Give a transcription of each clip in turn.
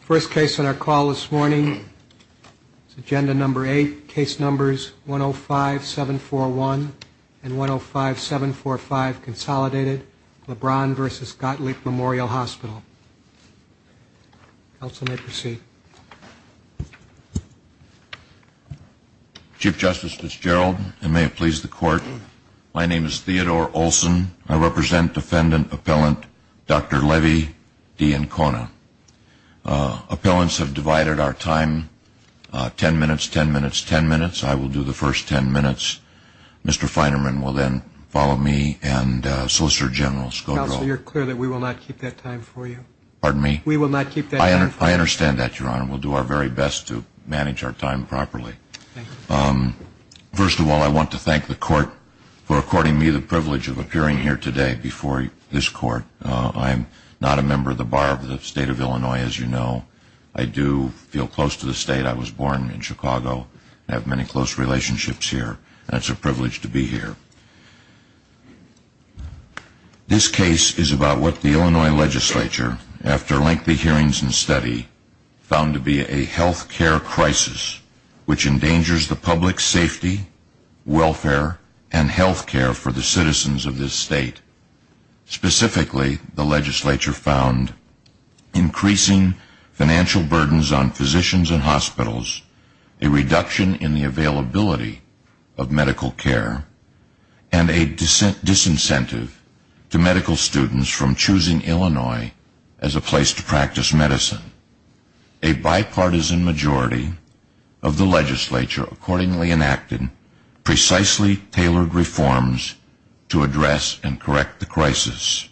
First case on our call this morning is Agenda No. 8, Case Numbers 105-741 and 105-745, Consolidated, Lebron v. Gottlieb Memorial Hospital. Counsel may proceed. Chief Justice Fitzgerald, and may it please the Court, my name is Theodore Olson. I represent Defendant Appellant Dr. Levy D. Ancona. Appellants have divided our time ten minutes, ten minutes, ten minutes. I will do the first ten minutes. Mr. Feinerman will then follow me and Solicitor General Scodro. Counsel, you're clear that we will not keep that time for you. Pardon me? We will not keep that time for you. I understand that, Your Honor. We'll do our very best to manage our time properly. First of all, I want to thank the Court for according me the privilege of appearing here today before this Court. I'm not a member of the Bar of the State of Illinois, as you know. I do feel close to the state. I was born in Chicago. I have many close relationships here, and it's a privilege to be here. This case is about what the Illinois Legislature, after lengthy hearings and study, found to be a health care crisis, which endangers the public's safety, welfare, and health care for the citizens of this state. Specifically, the Legislature found increasing financial burdens on physicians and hospitals, a reduction in the availability of medical care, and a disincentive to medical students from choosing Illinois as a place to practice medicine. A bipartisan majority of the Legislature, accordingly enacted, precisely tailored reforms to address and correct the crisis.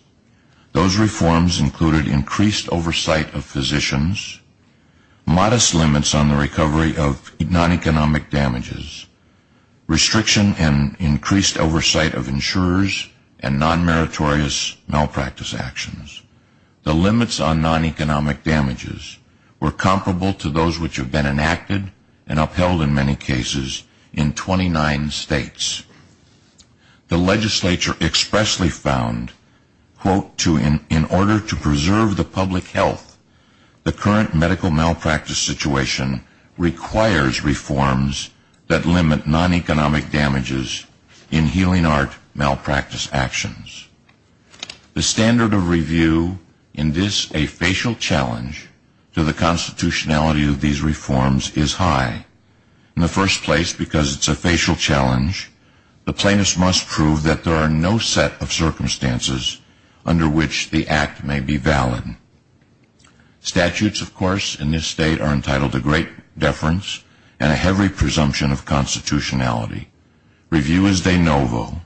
Those reforms included increased oversight of physicians, modest limits on the recovery of non-economic damages, restriction and increased oversight of insurers, and non-meritorious malpractice actions. The limits on non-economic damages were comparable to those which have been enacted and upheld in many cases in 29 states. The Legislature expressly found, quote, in order to preserve the public health, the current medical malpractice situation requires reforms that limit non-economic damages in healing art malpractice actions. The standard of review, in this a facial challenge to the constitutionality of these reforms, is high. In the first place, because it's a facial challenge, the plaintiffs must prove that there are no set of circumstances under which the act may be valid. Statutes, of course, in this state are entitled to great deference and a heavy presumption of constitutionality. Review is de novo.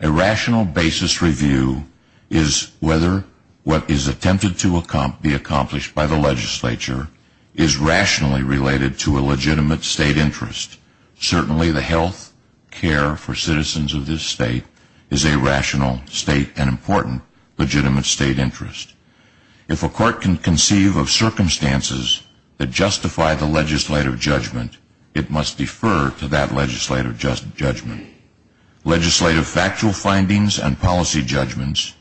A rational basis review is whether what is attempted to be accomplished by the Legislature is rationally related to a legitimate state interest. Certainly the health care for citizens of this state is a rational state and important legitimate state interest. If a court can conceive of circumstances that justify the legislative judgment, it must defer to that legislative judgment. Legislative factual findings and policy judgments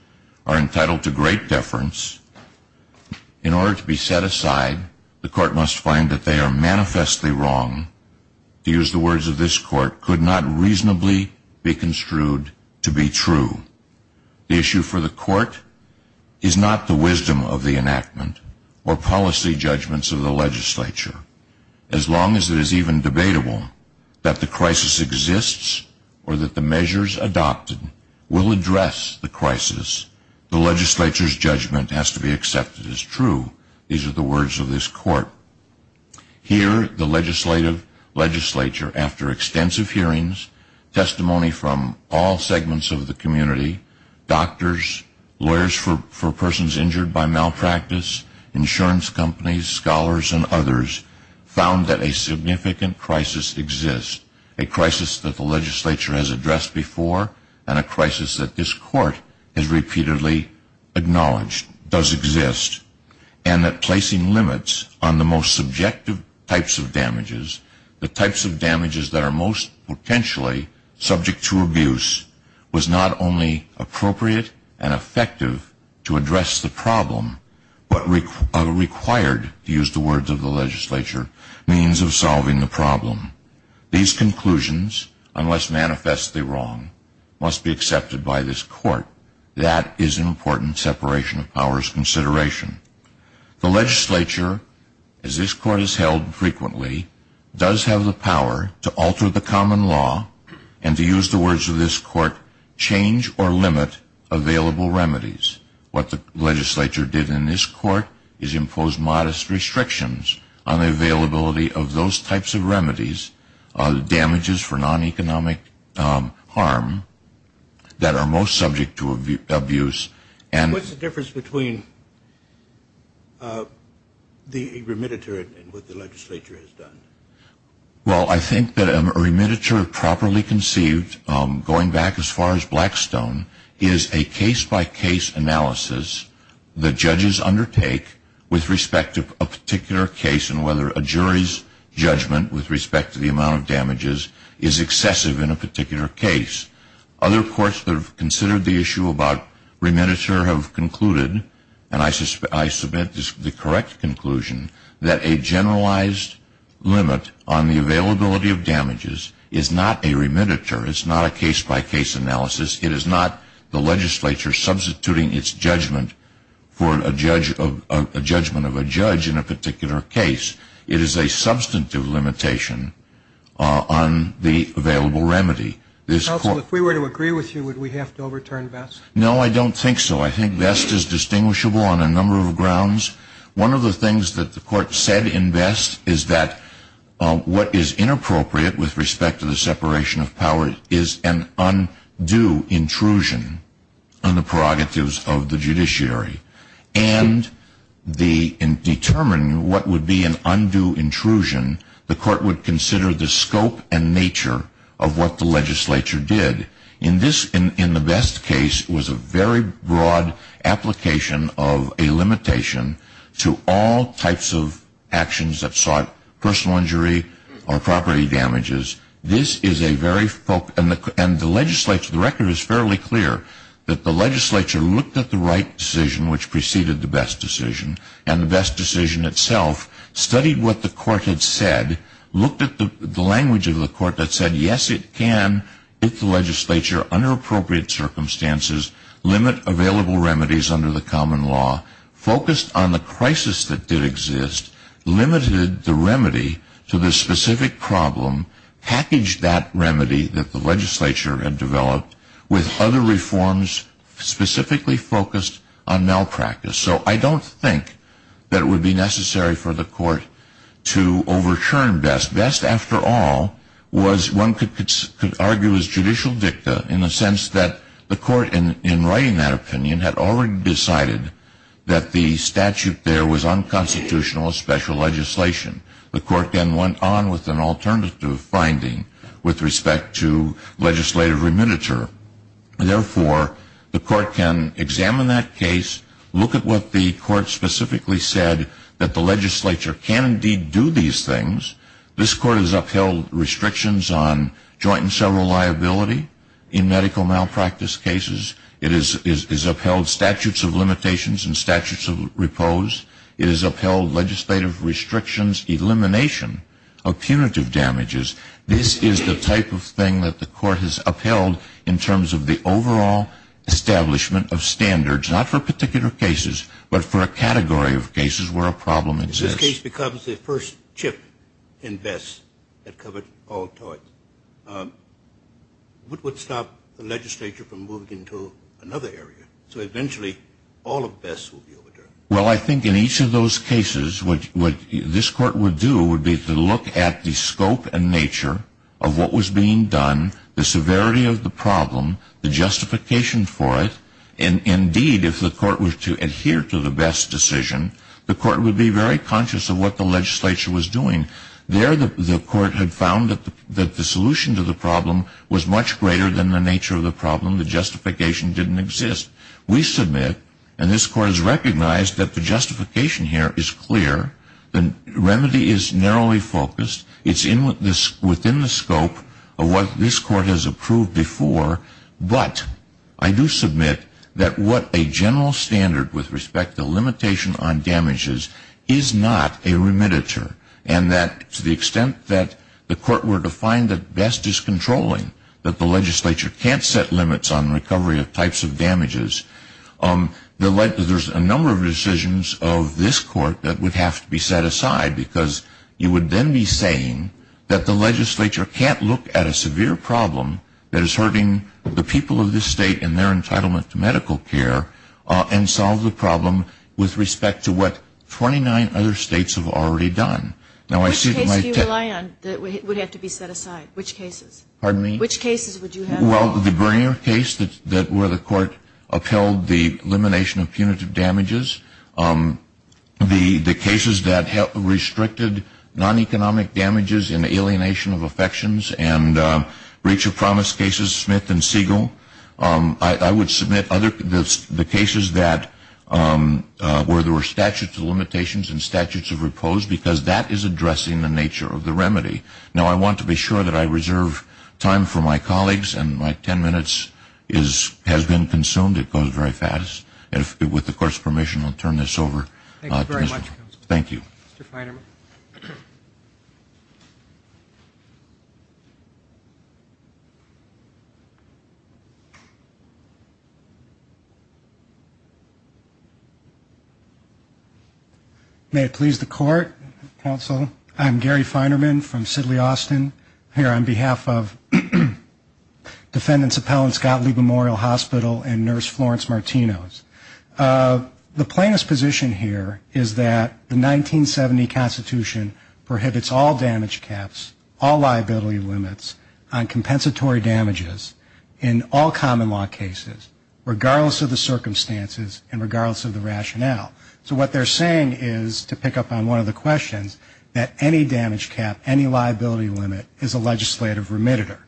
are entitled to great deference. In order to be set aside, the court must find that they are manifestly wrong. To use the words of this court, could not reasonably be construed to be true. The issue for the court is not the wisdom of the enactment or policy judgments of the Legislature. As long as it is even debatable that the crisis exists or that the measures adopted will address the crisis, the Legislature's judgment has to be accepted as true. These are the words of this court. Here, the Legislature, after extensive hearings, testimony from all segments of the community, doctors, lawyers for persons injured by malpractice, insurance companies, scholars, and others, found that a significant crisis exists. A crisis that the Legislature has addressed before and a crisis that this court has repeatedly acknowledged does exist. And that placing limits on the most subjective types of damages, the types of damages that are most potentially subject to abuse, was not only appropriate and effective to address the problem but required, to use the words of the Legislature, means of solving the problem. These conclusions, unless manifestly wrong, must be accepted by this court. That is an important separation of powers consideration. The Legislature, as this court has held frequently, does have the power to alter the common law and to use the words of this court, change or limit available remedies. What the Legislature did in this court is impose modest restrictions on the availability of those types of remedies, damages for non-economic harm that are most subject to abuse. What's the difference between the remediatory and what the Legislature has done? Well, I think that a remediatory, properly conceived, going back as far as Blackstone, is a case-by-case analysis that judges undertake with respect to a particular case and whether a jury's judgment with respect to the amount of damages is excessive in a particular case. Other courts that have considered the issue about remediatory have concluded, and I submit this is the correct conclusion, that a generalized limit on the availability of damages is not a remediatory, it's not a case-by-case analysis, it is not the Legislature substituting its judgment for a judgment of a judge in a particular case. It is a substantive limitation on the available remedy. Counsel, if we were to agree with you, would we have to overturn Vest? No, I don't think so. I think Vest is distinguishable on a number of grounds. One of the things that the Court said in Vest is that what is inappropriate with respect to the separation of powers is an undue intrusion on the prerogatives of the judiciary. And in determining what would be an undue intrusion, the Court would consider the scope and nature of what the Legislature did. In the Vest case, it was a very broad application of a limitation to all types of actions that sought personal injury or property damages. The record is fairly clear that the Legislature looked at the right decision, which preceded the Vest decision, and the Vest decision itself, studied what the Court had said, looked at the language of the Court that said, yes, it can, with the Legislature, under appropriate circumstances, limit available remedies under the common law, focused on the crisis that did exist, limited the remedy to this specific problem, packaged that remedy that the Legislature had developed with other reforms specifically focused on malpractice. So I don't think that it would be necessary for the Court to overturn Vest. Vest, after all, one could argue was judicial dicta in the sense that the Court, in writing that opinion, had already decided that the statute there was unconstitutional special legislation. The Court then went on with an alternative finding with respect to legislative reminiture. Therefore, the Court can examine that case, look at what the Court specifically said that the Legislature can indeed do these things. This Court has upheld restrictions on joint and several liability in medical malpractice cases. It has upheld statutes of limitations and statutes of repose. It has upheld legislative restrictions, elimination of punitive damages. This is the type of thing that the Court has upheld in terms of the overall establishment of standards, not for particular cases, but for a category of cases where a problem exists. If this case becomes the first chip in Vest that covered all types, what would stop the Legislature from moving into another area, so eventually all of Vest would be overturned? Well, I think in each of those cases, what this Court would do would be to look at the scope and nature of what was being done, the severity of the problem, the justification for it. Indeed, if the Court were to adhere to the Vest decision, the Court would be very conscious of what the Legislature was doing. There, the Court had found that the solution to the problem was much greater than the nature of the problem. The justification didn't exist. We submit, and this Court has recognized that the justification here is clear. The remedy is narrowly focused. It's within the scope of what this Court has approved before, but I do submit that what a general standard with respect to limitation on damages is not a remediator, and that to the extent that the Court were to find that Vest is controlling, that the Legislature can't set limits on recovery of types of damages, there's a number of decisions of this Court that would have to be set aside, because you would then be saying that the Legislature can't look at a severe problem that is hurting the people of this state and their entitlement to medical care and solve the problem with respect to what 29 other states have already done. Which cases do you rely on that would have to be set aside? Which cases? Pardon me? Which cases would you have? Well, the Bernier case where the Court upheld the elimination of punitive damages, the cases that restricted non-economic damages and alienation of affections, and breach of promise cases, Smith and Siegel. I would submit the cases where there were statutes of limitations and statutes of repose, because that is addressing the nature of the remedy. Now, I want to be sure that I reserve time for my colleagues, and my ten minutes has been consumed. It goes very fast. With the Court's permission, I'll turn this over. Thank you very much. Thank you. Mr. Feinerman. May it please the Court, Counsel, I'm Gary Feinerman from Sidley, Austin, here on behalf of Defendants Appellant's Gottlieb Memorial Hospital and Nurse Florence Martinos. The plaintiff's position here is that the 1970 Constitution prohibits all damage caps, all liability limits on compensatory damages in all common law cases, regardless of the circumstances and regardless of the rationale. So what they're saying is, to pick up on one of the questions, that any damage cap, any liability limit is a legislative remitter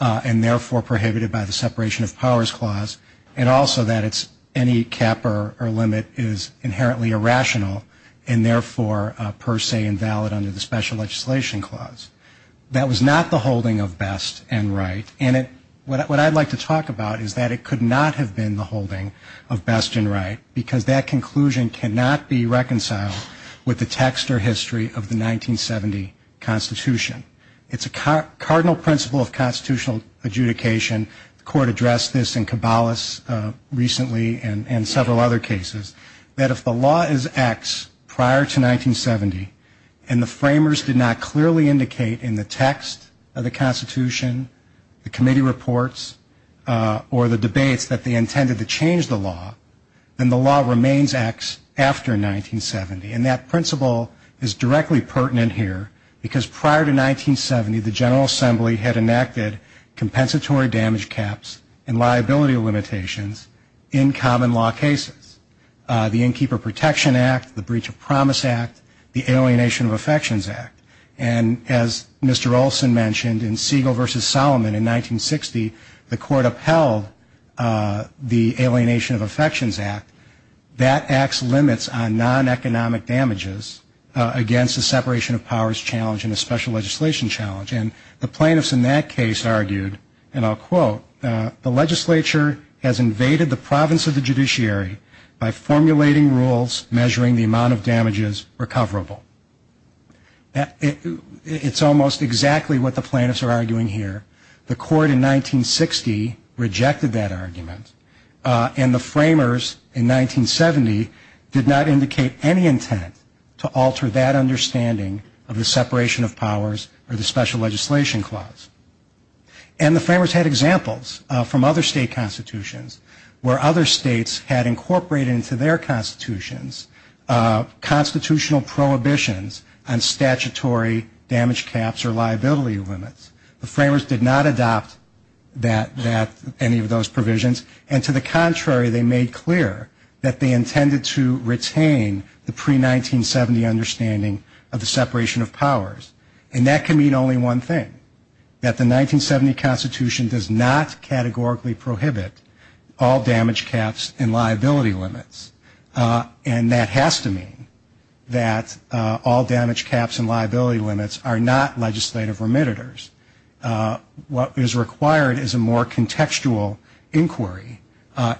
and therefore prohibited by the Separation of Powers Clause, and also that any cap or limit is inherently irrational and therefore per se invalid under the Special Legislation Clause. That was not the holding of best and right, and what I'd like to talk about is that it could not have been the holding of best and right because that conclusion cannot be reconciled with the text or history of the 1970 Constitution. It's a cardinal principle of constitutional adjudication. The Court addressed this in Caballos recently and several other cases, that if the law is X prior to 1970 and the framers did not clearly indicate in the text of the Constitution, the committee reports, or the debate that they intended to change the law, then the law remains X after 1970. And that principle is directly pertinent here because prior to 1970, the General Assembly had enacted compensatory damage caps and liability limitations in common law cases. The Innkeeper Protection Act, the Breach of Promise Act, the Alienation of Affections Act, and as Mr. Olson mentioned in Siegel versus Solomon in 1960, the Court upheld the Alienation of Affections Act. That acts limits on non-economic damages against the Separation of Powers Challenge and the Special Legislation Challenge. And the plaintiffs in that case argued, and I'll quote, the legislature has invaded the province of the judiciary by formulating rules measuring the amount of damages recoverable. It's almost exactly what the plaintiffs are arguing here. The Court in 1960 rejected that argument and the framers in 1970 did not indicate any intent to alter that understanding of the Separation of Powers or the Special Legislation Clause. And the framers had examples from other state constitutions where other states had incorporated into their constitutions constitutional prohibitions on statutory damage caps or liability limits. The framers did not adopt any of those provisions, and to the contrary, they made clear that they intended to retain the pre-1970 understanding of the Separation of Powers. And that can mean only one thing, that the 1970 Constitution does not categorically prohibit all damage caps and liability limits. And that has to mean that all damage caps and liability limits are not legislative remitters. What is required is a more contextual inquiry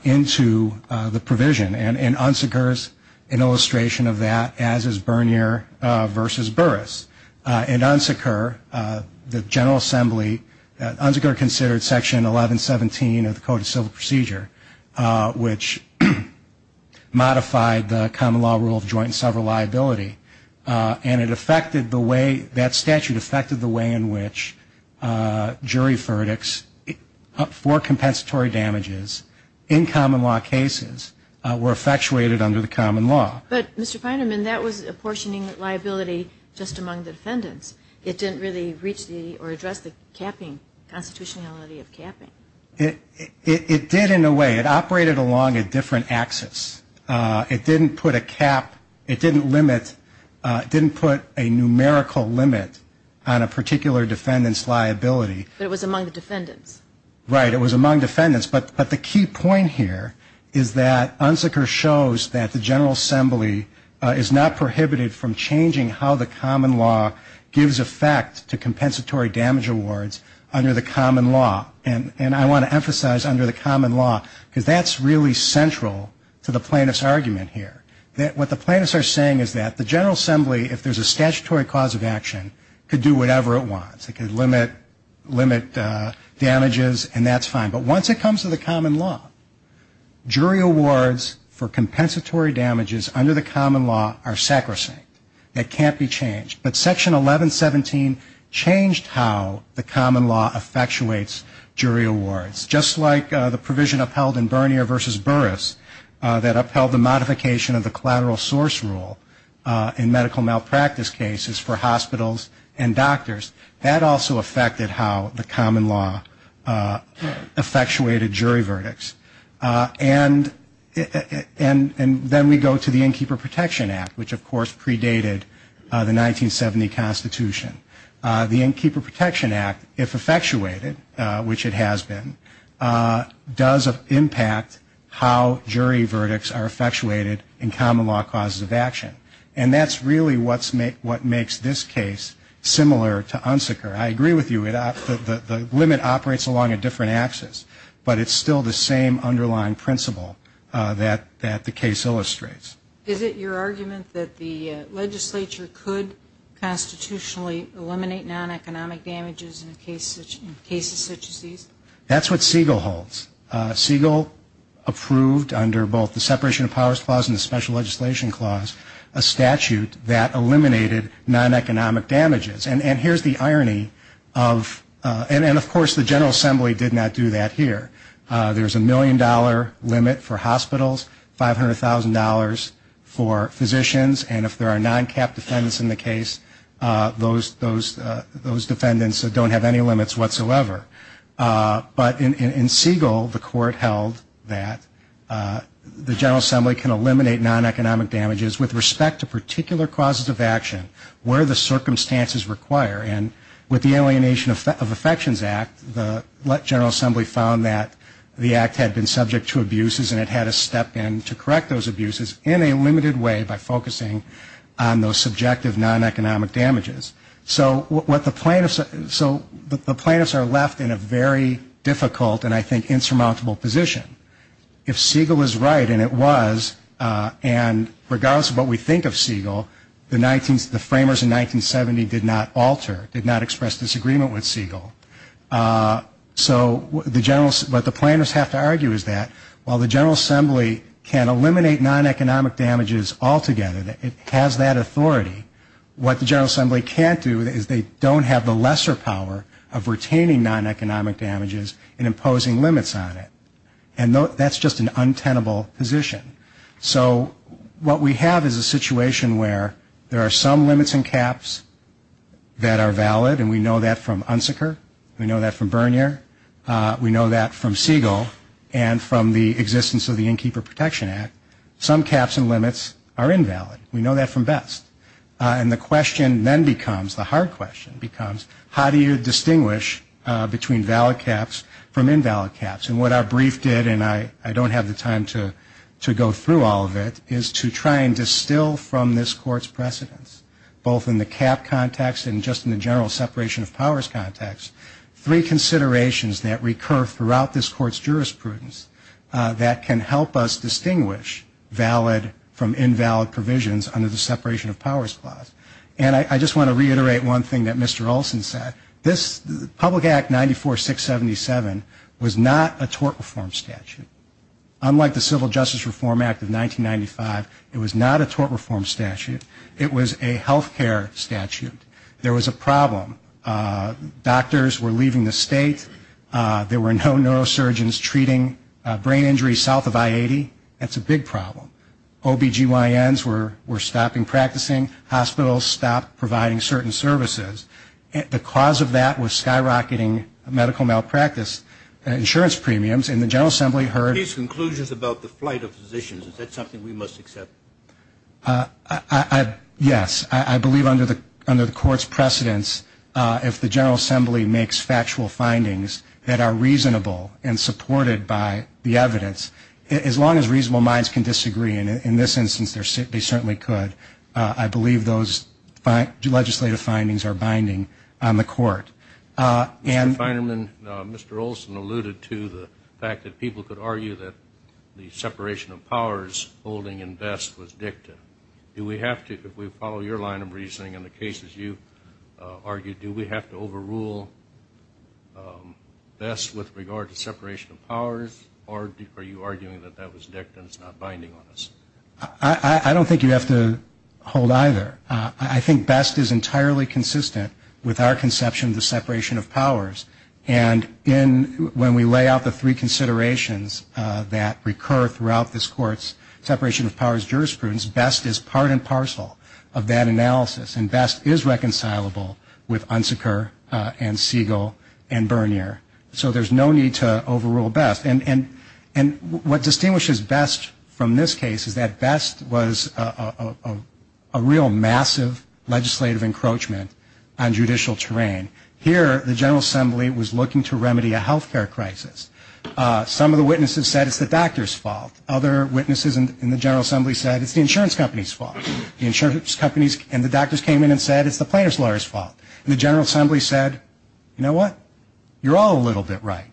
into the provision, and UNSCR's an illustration of that, as is Bernier v. Burris. In UNSCR, the General Assembly, UNSCR considered Section 1117 of the Code of Civil Procedure, which modified the common law rule of joint and several liability, and it affected the way that statute affected the way in which jury verdicts for compensatory damages in common law cases were effectuated under the common law. But, Mr. Feiderman, that was apportioning liability just among defendants. It didn't really address the constitutionality of capping. It did in a way. It operated along a different axis. It didn't put a numerical limit on a particular defendant's liability. But it was among the defendants. Right, it was among defendants. But the key point here is that UNSCR shows that the General Assembly is not prohibited from changing how the common law gives effect to compensatory damage awards under the common law. And I want to emphasize under the common law, because that's really central to the plaintiff's argument here. What the plaintiffs are saying is that the General Assembly, if there's a statutory cause of action, can do whatever it wants. It can limit damages, and that's fine. But once it comes to the common law, jury awards for compensatory damages under the common law are sacrosanct. It can't be changed. But Section 1117 changed how the common law effectuates jury awards. Just like the provision upheld in Vernier v. Burris that upheld the modification of the collateral source rule in medical malpractice cases for hospitals and doctors, that also affected how the common law effectuated jury verdicts. And then we go to the Innkeeper Protection Act, which, of course, predated the 1970 Constitution. The Innkeeper Protection Act, if effectuated, which it has been, does impact how jury verdicts are effectuated in common law causes of action. And that's really what makes this case similar to UNSCR. I agree with you. The limit operates along a different axis, but it's still the same underlying principle that the case illustrates. Is it your argument that the legislature could constitutionally eliminate non-economic damages in cases such as these? That's what Siegel holds. Siegel approved, under both the Separation of Powers Clause and the Special Legislation Clause, a statute that eliminated non-economic damages. And here's the irony. And, of course, the General Assembly did not do that here. There's a million-dollar limit for hospitals, $500,000 for physicians. And if there are non-cap defendants in the case, those defendants don't have any limits whatsoever. But in Siegel, the court held that the General Assembly can eliminate non-economic damages with respect to particular causes of action, where the circumstances require. And with the Alienation of Affections Act, the General Assembly found that the act had been subject to abuses and it had to step in to correct those abuses in a limited way by focusing on those subjective non-economic damages. So the plaintiffs are left in a very difficult and, I think, insurmountable position. If Siegel is right, and it was, and regardless of what we think of Siegel, the framers in 1970 did not alter, did not express disagreement with Siegel. So what the plaintiffs have to argue is that while the General Assembly can eliminate non-economic damages altogether, that it has that authority, what the General Assembly can't do is they don't have the lesser power of retaining non-economic damages and imposing limits on it. And that's just an untenable position. So what we have is a situation where there are some limits and caps that are valid, and we know that from Unsecker. We know that from Bernier. We know that from Siegel and from the existence of the Innkeeper Protection Act. Some caps and limits are invalid. We know that from Betts. And the question then becomes, the hard question becomes, how do you distinguish between valid caps from invalid caps? And what our brief did, and I don't have the time to go through all of it, is to try and distill from this Court's precedents, both in the cap context and just in the general separation of powers context, three considerations that recur throughout this Court's jurisprudence that can help us distinguish valid from invalid provisions under the separation of powers clause. And I just want to reiterate one thing that Mr. Olson said. This Public Act 94677 was not a tort reform statute. Unlike the Civil Justice Reform Act of 1995, it was not a tort reform statute. There was a problem. Doctors were leaving the state. There were no neurosurgeons treating brain injuries south of I-80. That's a big problem. OB-GYNs were stopping practicing. Hospitals stopped providing certain services. The cause of that was skyrocketing medical malpractice. Insurance premiums in the General Assembly heard. These conclusions about the flight of physicians, is that something we must accept? Yes. I believe under the Court's precedents, if the General Assembly makes factual findings that are reasonable and supported by the evidence, as long as reasonable minds can disagree, and in this instance they certainly could, I believe those legislative findings are binding on the Court. And finally, Mr. Olson alluded to the fact that people could argue that the separation of powers holding in Best was dicta. Do we have to, if we follow your line of reasoning in the cases you've argued, do we have to overrule Best with regard to separation of powers, or are you arguing that that was dicta and it's not binding on us? I don't think you have to hold either. I think Best is entirely consistent with our conception of the separation of powers. And when we lay out the three considerations that recur throughout this Court's separation of powers jurisprudence, Best is part and parcel of that analysis, and Best is reconcilable with Unsecker and Siegel and Bernier. So there's no need to overrule Best. And what distinguishes Best from this case is that Best was a real massive legislative encroachment on judicial terrain. Here the General Assembly was looking to remedy a health care crisis. Some of the witnesses said it's the doctor's fault. Other witnesses in the General Assembly said it's the insurance company's fault. And the doctors came in and said it's the plaintiff's lawyer's fault. And the General Assembly said, you know what, you're all a little bit right.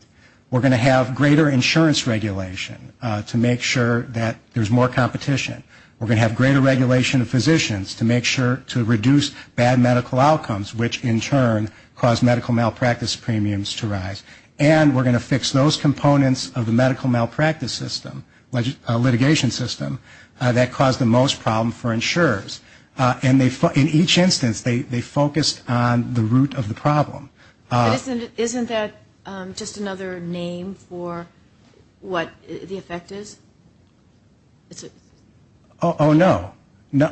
We're going to have greater insurance regulation to make sure that there's more competition. We're going to have greater regulation of physicians to make sure to reduce bad medical outcomes, which in turn cause medical malpractice premiums to rise. And we're going to fix those components of the medical malpractice system, litigation system, that cause the most problem for insurers. And in each instance they focused on the root of the problem. Isn't that just another name for what the effect is? Oh, no.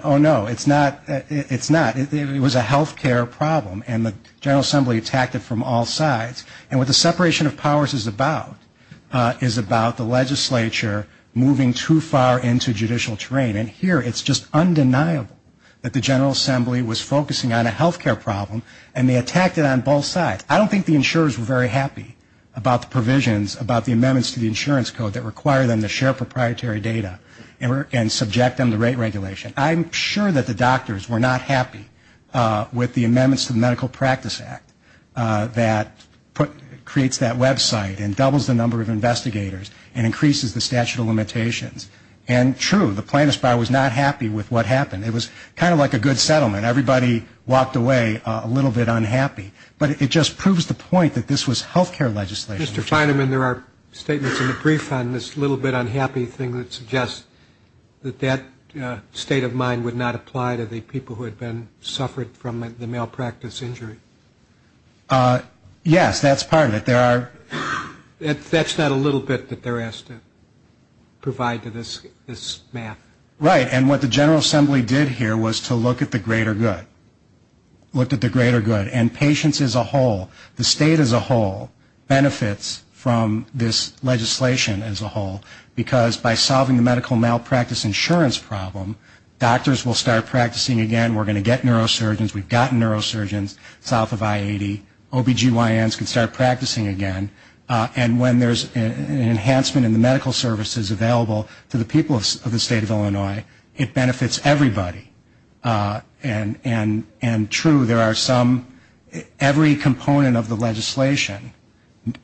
Oh, no, it's not. It was a health care problem, and the General Assembly attacked it from all sides. And what the separation of powers is about is about the legislature moving too far into judicial terrain. And here it's just undeniable that the General Assembly was focusing on a health care problem, and they attacked it on both sides. I don't think the insurers were very happy about the provisions, about the amendments to the insurance code that require them to share proprietary data and subject them to rate regulation. I'm sure that the doctors were not happy with the amendments to the Medical Practice Act that creates that website and doubles the number of investigators and increases the statute of limitations. And, true, the plaintiff's bar was not happy with what happened. It was kind of like a good settlement. Everybody walked away a little bit unhappy. But it just proves the point that this was health care legislation. Mr. Feinemann, there are statements in the brief on this little bit unhappy thing that would suggest that that state of mind would not apply to the people who had suffered from the malpractice injury. Yes, that's part of it. That's not a little bit that they're asked to provide to this map. Right, and what the General Assembly did here was to look at the greater good. And patients as a whole, the state as a whole, benefits from this legislation as a whole because by solving the medical malpractice insurance problem, doctors will start practicing again. We're going to get neurosurgeons. We've gotten neurosurgeons south of I-80. OBGYNs can start practicing again. And when there's an enhancement in the medical services available to the people of the state of Illinois, it benefits everybody. And, true, there are some, every component of the legislation,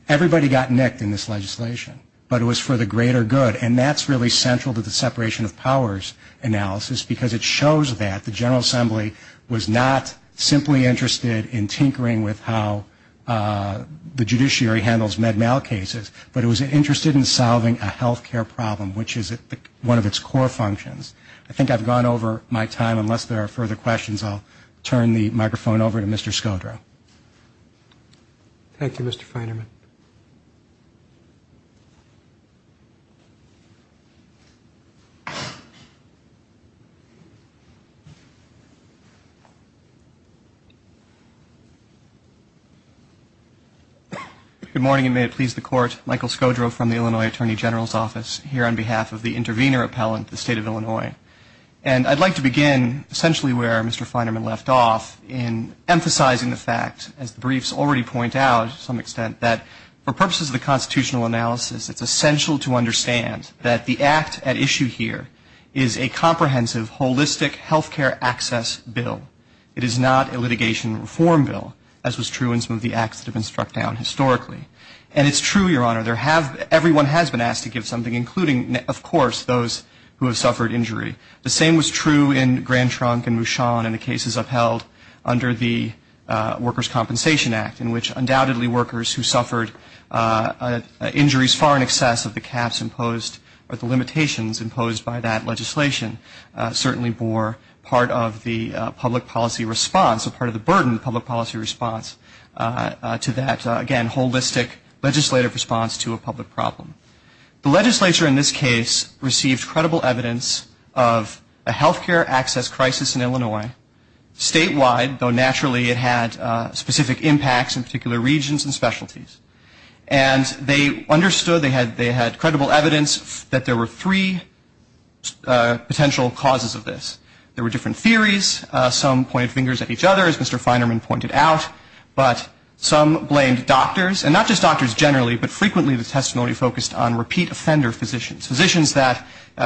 everybody got nicked in this legislation, but it was for the greater good. And that's really central to the separation of powers analysis because it shows that the General Assembly was not simply interested in tinkering with how the judiciary handles med mal cases, but it was interested in solving a health care problem, which is one of its core functions. I think I've gone over my time. Unless there are further questions, I'll turn the microphone over to Mr. Skodra. Thank you, Mr. Feinerman. Good morning, and may it please the Court. Michael Skodra from the Illinois Attorney General's Office here on behalf of the intervener appellant, the state of Illinois. And I'd like to begin essentially where Mr. Feinerman left off in emphasizing the fact, as the briefs already point out to some extent, that for purposes of the constitutional analysis, it's essential to understand that the act at issue here is a comprehensive, holistic health care access bill. It is not a litigation reform bill, as was true in some of the acts that have been struck down historically. And it's true, Your Honor, everyone has been asked to give something, including, of course, those who have suffered injury. The same was true in Grand Trunk and Mushan and the cases upheld under the Workers' Compensation Act, in which undoubtedly workers who suffered injuries far in excess of the caps imposed or the limitations imposed by that legislation certainly bore part of the public policy response, a part of the burden of the public policy response to that, again, holistic legislative response to a public problem. The legislature in this case received credible evidence of a health care access crisis in Illinois statewide, though naturally it had specific impacts in particular regions and specialties. And they understood, they had credible evidence that there were three potential causes of this. There were different theories. Some pointed fingers at each other, as Mr. Feinerman pointed out, but some blamed doctors, and not just doctors generally, but frequently the testimony focused on repeat offender physicians, physicians that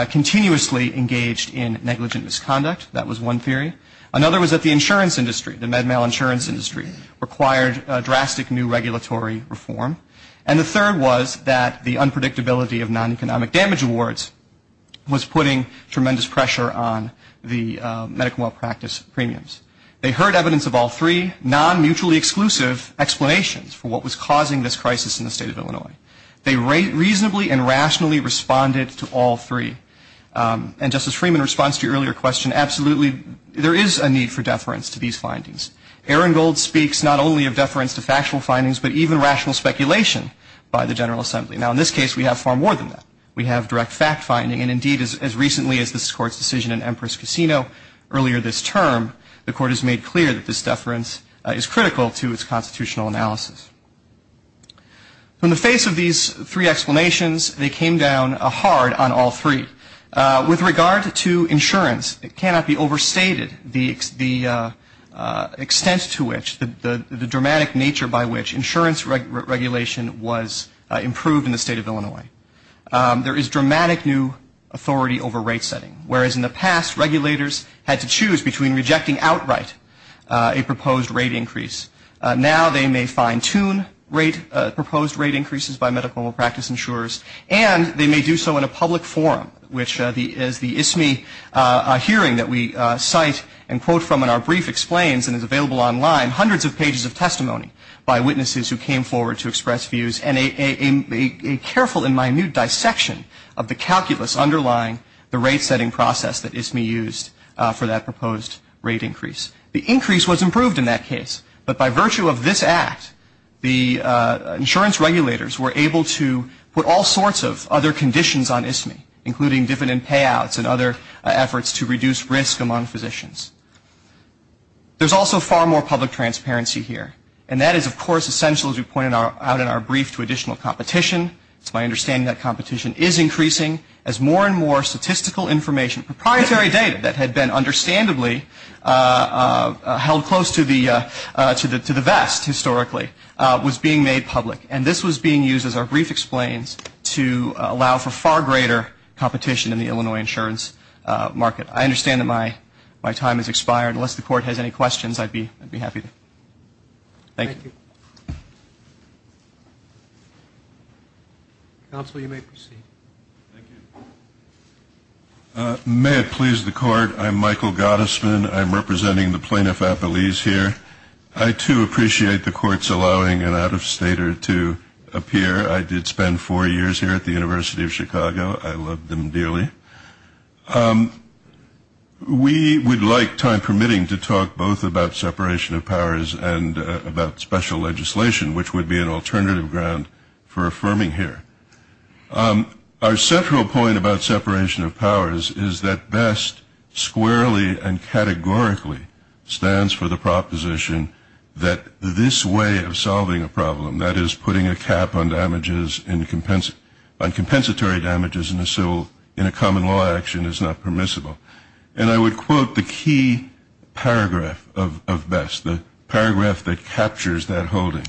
continuously engaged in negligent misconduct. That was one theory. Another was that the insurance industry, the med mal insurance industry, required drastic new regulatory reform. And the third was that the unpredictability of non-economic damage awards was putting tremendous pressure on the medical malpractice premiums. They heard evidence of all three non-mutually exclusive explanations for what was causing this crisis in the state of Illinois. They reasonably and rationally responded to all three. And Justice Freeman responds to your earlier question, absolutely there is a need for deference to these findings. Aaron Gold speaks not only of deference to factual findings, but even rational speculation by the General Assembly. Now in this case we have far more than that. We have direct fact finding, and indeed as recently as this Court's decision in Empress Casino earlier this term, the Court has made clear that this deference is critical to its constitutional analysis. In the face of these three explanations, they came down hard on all three. With regard to insurance, it cannot be overstated the extent to which, the dramatic nature by which insurance regulation was improved in the state of Illinois. There is dramatic new authority over rate setting, whereas in the past regulators had to choose between rejecting outright a proposed rate increase. Now they may fine tune proposed rate increases by medical malpractice insurers, and they may do so in a public forum, which is the ISMI hearing that we cite and quote from in our brief explains, and is available online, hundreds of pages of testimony by witnesses who came forward to express views, and a careful and minute dissection of the calculus underlying the rate setting process that ISMI used for that proposed rate increase. The increase was improved in that case, but by virtue of this act, the insurance regulators were able to put all sorts of other conditions on ISMI, including dividend payouts and other efforts to reduce risk among physicians. There's also far more public transparency here, and that is of course essential, as we pointed out in our brief, to additional competition. It's my understanding that competition is increasing as more and more statistical information, and proprietary data that had been understandably held close to the vest historically, was being made public, and this was being used as our brief explains to allow for far greater competition in the Illinois insurance market. I understand that my time has expired. Unless the court has any questions, I'd be happy to. Thank you. Counsel, you may proceed. May it please the court, I'm Michael Gottesman. I'm representing the Plaintiff Appellees here. I, too, appreciate the courts allowing an out-of-stater to appear. I did spend four years here at the University of Chicago. I loved them dearly. We would like, time permitting, to talk both about separation of powers and about special legislation, which would be an alternative ground for affirming here. Our central point about separation of powers is that BEST squarely and categorically stands for the proposition that this way of solving a problem, that is, putting a cap on compensatory damages in a common law action, is not permissible. And I would quote the key paragraph of BEST, the paragraph that captures that holding,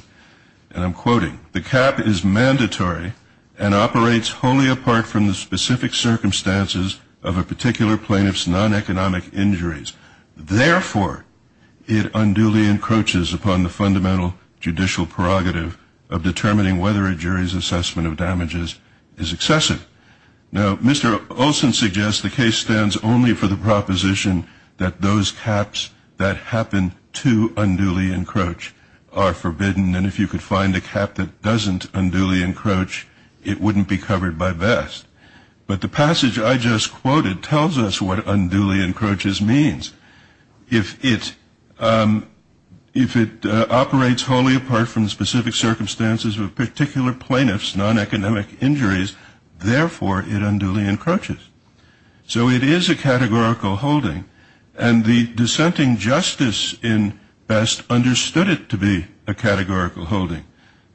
and I'm quoting, the cap is mandatory and operates wholly apart from the specific circumstances of a particular plaintiff's non-economic injuries. Therefore, it unduly encroaches upon the fundamental judicial prerogative of determining whether a jury's assessment of damages is excessive. Now, Mr. Olson suggests the case stands only for the proposition that those caps that happen to unduly encroach are forbidden, and if you could find a cap that doesn't unduly encroach, it wouldn't be covered by BEST. But the passage I just quoted tells us what unduly encroaches means. If it operates wholly apart from the specific circumstances of a particular plaintiff's non-economic injuries, therefore, it unduly encroaches. So it is a categorical holding, and the dissenting justice in BEST understood it to be a categorical holding.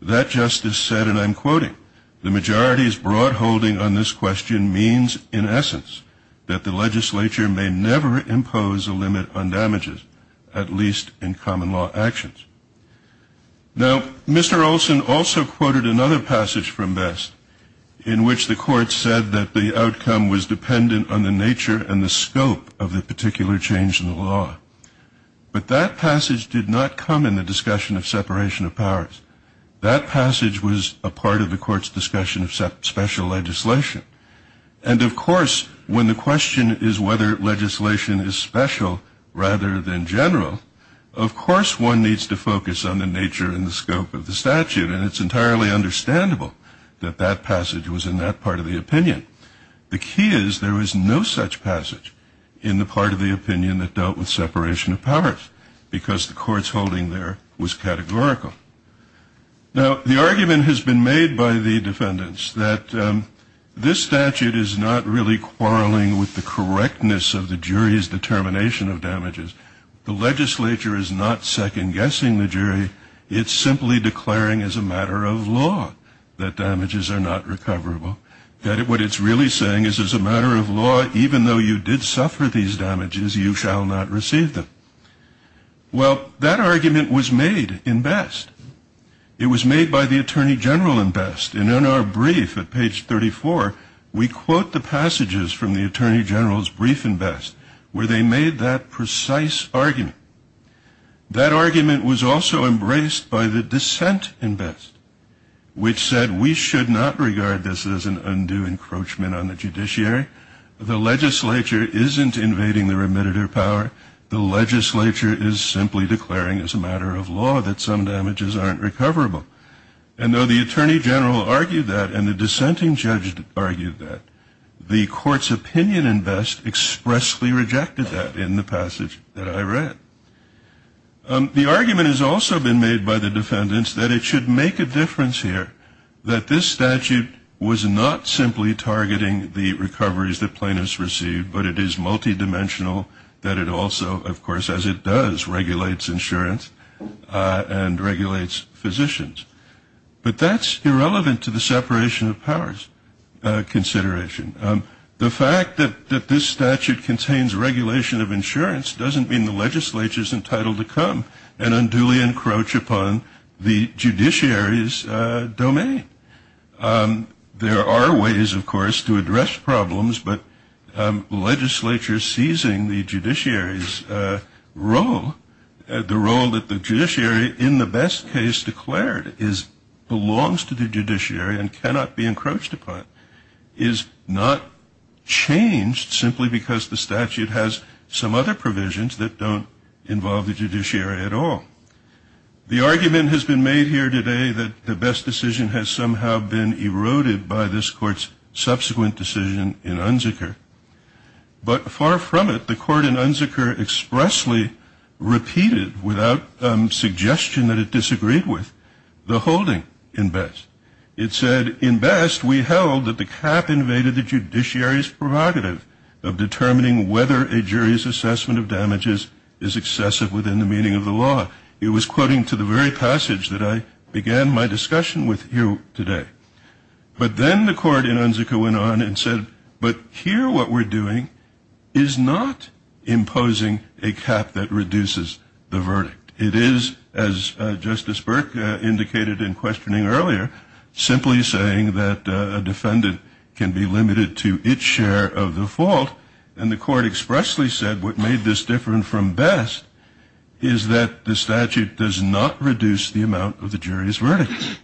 That justice said, and I'm quoting, the majority's broad holding on this question means, in essence, that the legislature may never impose a limit on damages, at least in common law actions. Now, Mr. Olson also quoted another passage from BEST in which the court said that the outcome was dependent on the nature and the scope of the particular change in the law. But that passage did not come in the discussion of separation of powers. That passage was a part of the court's discussion of special legislation. And, of course, when the question is whether legislation is special rather than general, of course one needs to focus on the nature and the scope of the statute, and it's entirely understandable that that passage was in that part of the opinion. The key is there is no such passage in the part of the opinion that dealt with separation of powers, because the court's holding there was categorical. Now, the argument has been made by the defendants that this statute is not really quarreling with the correctness of the jury's determination of damages. The legislature is not second-guessing the jury. It's simply declaring as a matter of law that damages are not recoverable, that what it's really saying is as a matter of law, even though you did suffer these damages, you shall not receive them. Well, that argument was made in BEST. It was made by the Attorney General in BEST. And in our brief at page 34, we quote the passages from the Attorney General's brief in BEST where they made that precise argument. That argument was also embraced by the dissent in BEST, which said we should not regard this as an undue encroachment on the judiciary. The legislature isn't invading the remit of their power. The legislature is simply declaring as a matter of law that some damages aren't recoverable. And though the Attorney General argued that and the dissenting judge argued that, the court's opinion in BEST expressly rejected that in the passage that I read. The argument has also been made by the defendants that it should make a difference here, that this statute was not simply targeting the recoveries that plaintiffs received, but it is multidimensional, that it also, of course, as it does, regulates insurance and regulates physicians. But that's irrelevant to the separation of powers consideration. The fact that this statute contains regulation of insurance doesn't mean the legislature is entitled to come and unduly encroach upon the judiciary's domain. There are ways, of course, to address problems, but the legislature seizing the judiciary's role, the role that the judiciary in the BEST case declared belongs to the judiciary and cannot be encroached upon, is not changed simply because the statute has some other provisions that don't involve the judiciary at all. The argument has been made here today that the BEST decision has somehow been eroded by this court's subsequent decision in UNSCR. But far from it, the court in UNSCR expressly repeated, without suggestion that it disagreed with, the holding in BEST. It said, in BEST, we held that the cap invaded the judiciary's prerogative of determining whether a jury's assessment of damages is excessive within the meaning of the law. It was quoting to the very passage that I began my discussion with here today. But then the court in UNSCR went on and said, but here what we're doing is not imposing a cap that reduces the verdict. It is, as Justice Burke indicated in questioning earlier, simply saying that a defendant can be limited to its share of the fault, and the court expressly said what made this different from BEST is that the statute does not reduce the amount of the jury's verdict.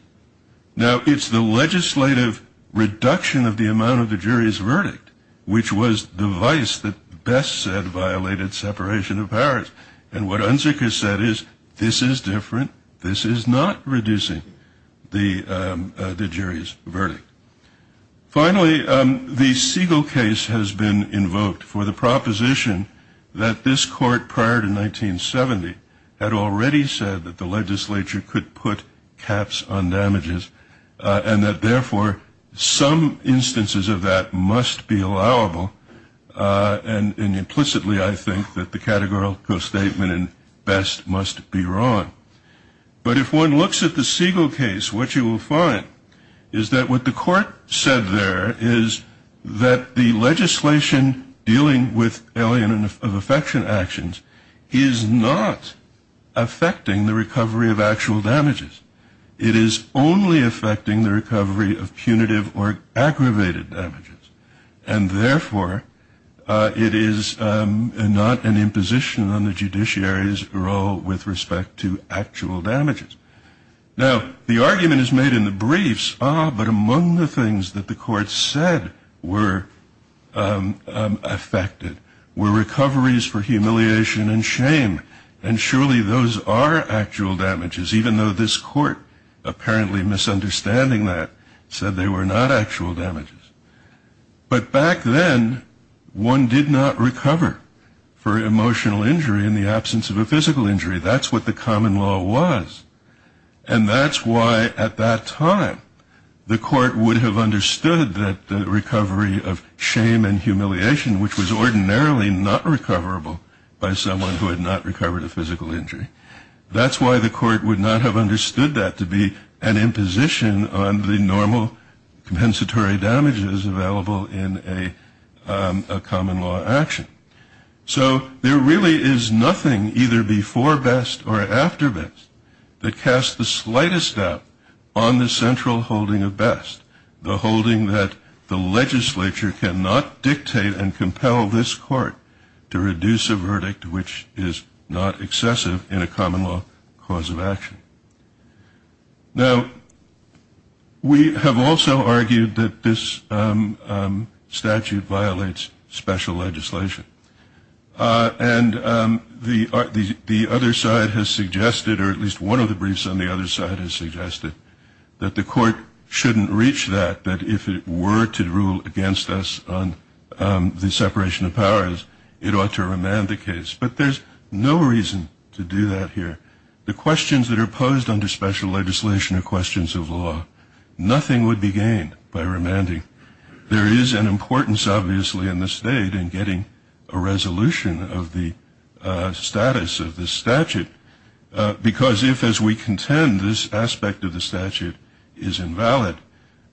Now, it's the legislative reduction of the amount of the jury's verdict which was the vice that BEST said violated separation of powers. And what UNSCR said is, this is different, this is not reducing the jury's verdict. Finally, the Siegel case has been invoked for the proposition that this court, prior to 1970, had already said that the legislature could put caps on damages and that, therefore, some instances of that must be allowable. And implicitly, I think that the categorical statement in BEST must be wrong. But if one looks at the Siegel case, what you will find is that what the court said there is that the legislation dealing with alien of affection actions is not affecting the recovery of actual damages. It is only affecting the recovery of punitive or aggravated damages. And, therefore, it is not an imposition on the judiciary's role with respect to actual damages. Now, the argument is made in the briefs, ah, but among the things that the court said were affected were recoveries for humiliation and shame. And surely those are actual damages, even though this court, apparently misunderstanding that, said they were not actual damages. But back then, one did not recover for emotional injury in the absence of a physical injury. That's what the common law was. And that's why, at that time, the court would have understood that the recovery of shame and humiliation, which was ordinarily not recoverable by someone who had not recovered a physical injury, that's why the court would not have understood that to be an imposition on the normal compensatory damages available in a common law action. So there really is nothing, either before BEST or after BEST, that casts the slightest doubt on the central holding of BEST, the holding that the legislature cannot dictate and compel this court to reduce a verdict which is not excessive in a common law cause of action. Now, we have also argued that this statute violates special legislation. And the other side has suggested, or at least one of the briefs on the other side has suggested, that the court shouldn't reach that, that if it were to rule against us on the separation of powers, it ought to remand the case. But there's no reason to do that here. The questions that are posed under special legislation are questions of the law. Nothing would be gained by remanding. There is an importance, obviously, in the state in getting a resolution of the status of this statute, because if, as we contend, this aspect of the statute is invalid,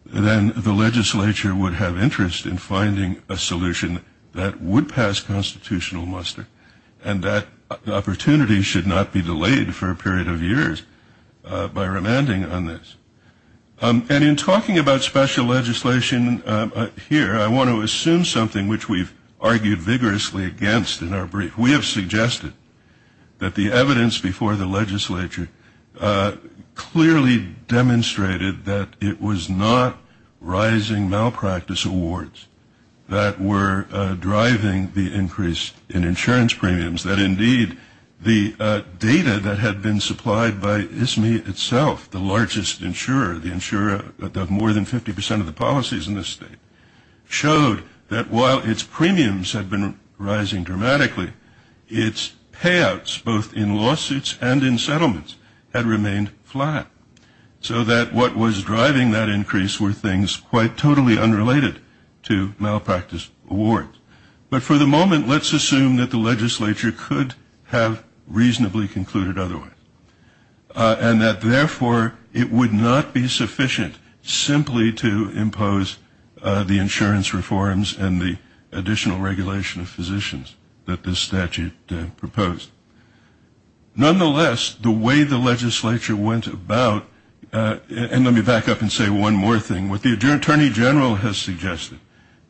then the legislature would have interest in finding a solution that would pass constitutional muster, and that opportunity should not be delayed for a period of years by remanding on this. And in talking about special legislation here, I want to assume something which we've argued vigorously against in our brief. We have suggested that the evidence before the legislature clearly demonstrated that it was not rising malpractice awards that were driving the increase in insurance premiums, that indeed the data that had been supplied by ISME itself, the largest insurer, the insurer of more than 50% of the policies in this state, showed that while its premiums had been rising dramatically, its payouts, both in lawsuits and in settlements, had remained flat, so that what was driving that increase were things quite totally unrelated to malpractice awards. But for the moment, let's assume that the legislature could have reasonably concluded otherwise, and that therefore it would not be sufficient simply to impose the insurance reforms and the additional regulation of physicians that this statute proposed. Nonetheless, the way the legislature went about, and let me back up and say one more thing, what the Attorney General has suggested,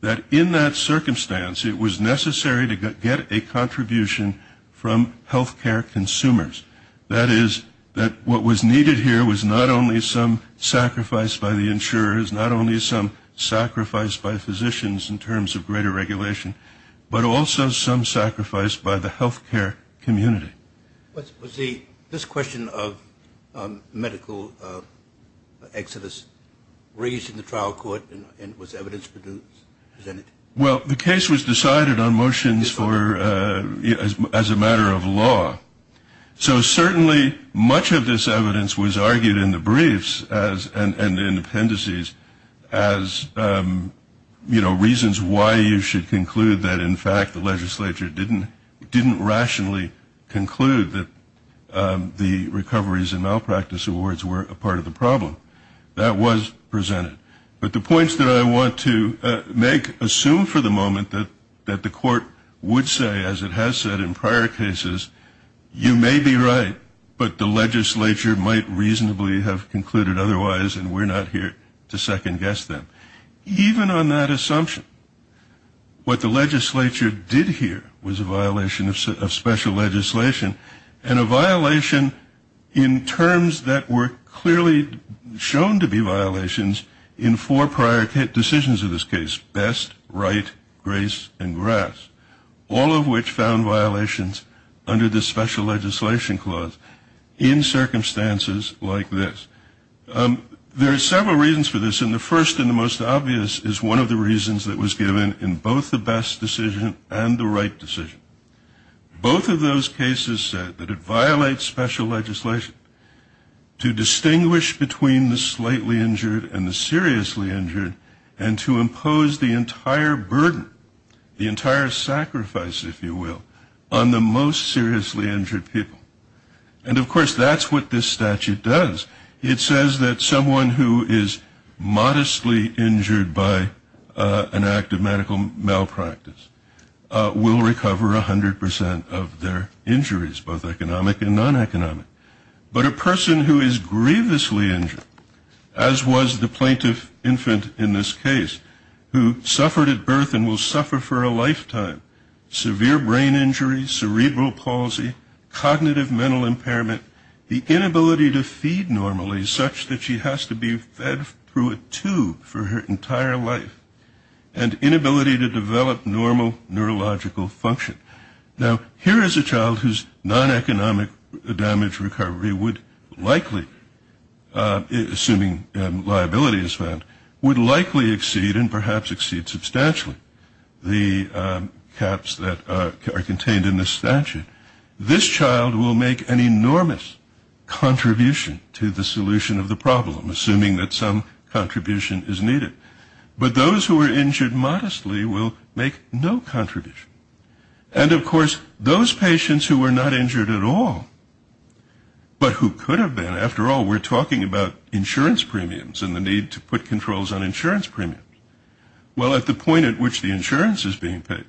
that in that circumstance, it was necessary to get a contribution from health care consumers. That is, that what was needed here was not only some sacrifice by the insurers, not only some sacrifice by physicians in terms of greater regulation, but also some sacrifice by the health care community. Was this question of medical exodus raised in the trial court and was evidence produced? Well, the case was decided on motions as a matter of law. So certainly much of this evidence was argued in the briefs and in the appendices as reasons why you should conclude that in fact the legislature didn't rationally conclude that the recoveries and malpractice awards were a part of the problem. That was presented. But the points that I want to make assume for the moment that the court would say, as it has said in prior cases, you may be right, but the legislature might reasonably have concluded otherwise, and we're not here to second-guess them. Even on that assumption, what the legislature did here was a violation of special legislation, and a violation in terms that were clearly shown to be violations in four prior decisions of this case, best, right, grace, and grass, all of which found violations under the special legislation clause in circumstances like this. There are several reasons for this, and the first and the most obvious is one of the reasons that was given in both the best decision and the right decision. Both of those cases said that it violates special legislation to distinguish between the slightly injured and the seriously injured and to impose the entire burden, the entire sacrifice, if you will, on the most seriously injured people. And, of course, that's what this statute does. It says that someone who is modestly injured by an act of medical malpractice will recover 100 percent of their injuries, both economic and non-economic. But a person who is grievously injured, as was the plaintiff infant in this case, who suffered at birth and will suffer for a lifetime, severe brain injury, cerebral palsy, cognitive mental impairment, the inability to feed normally such that she has to be fed through a tube for her entire life, and inability to develop normal neurological function. Now, here is a child whose non-economic damage recovery would likely, assuming liability is found, would likely exceed and perhaps exceed substantially the caps that are contained in this statute. This child will make an enormous contribution to the solution of the problem, assuming that some contribution is needed. But those who are injured modestly will make no contribution. And, of course, those patients who were not injured at all, but who could have been, after all, we're talking about insurance premiums and the need to put controls on insurance premiums. Well, at the point at which the insurance is being paid,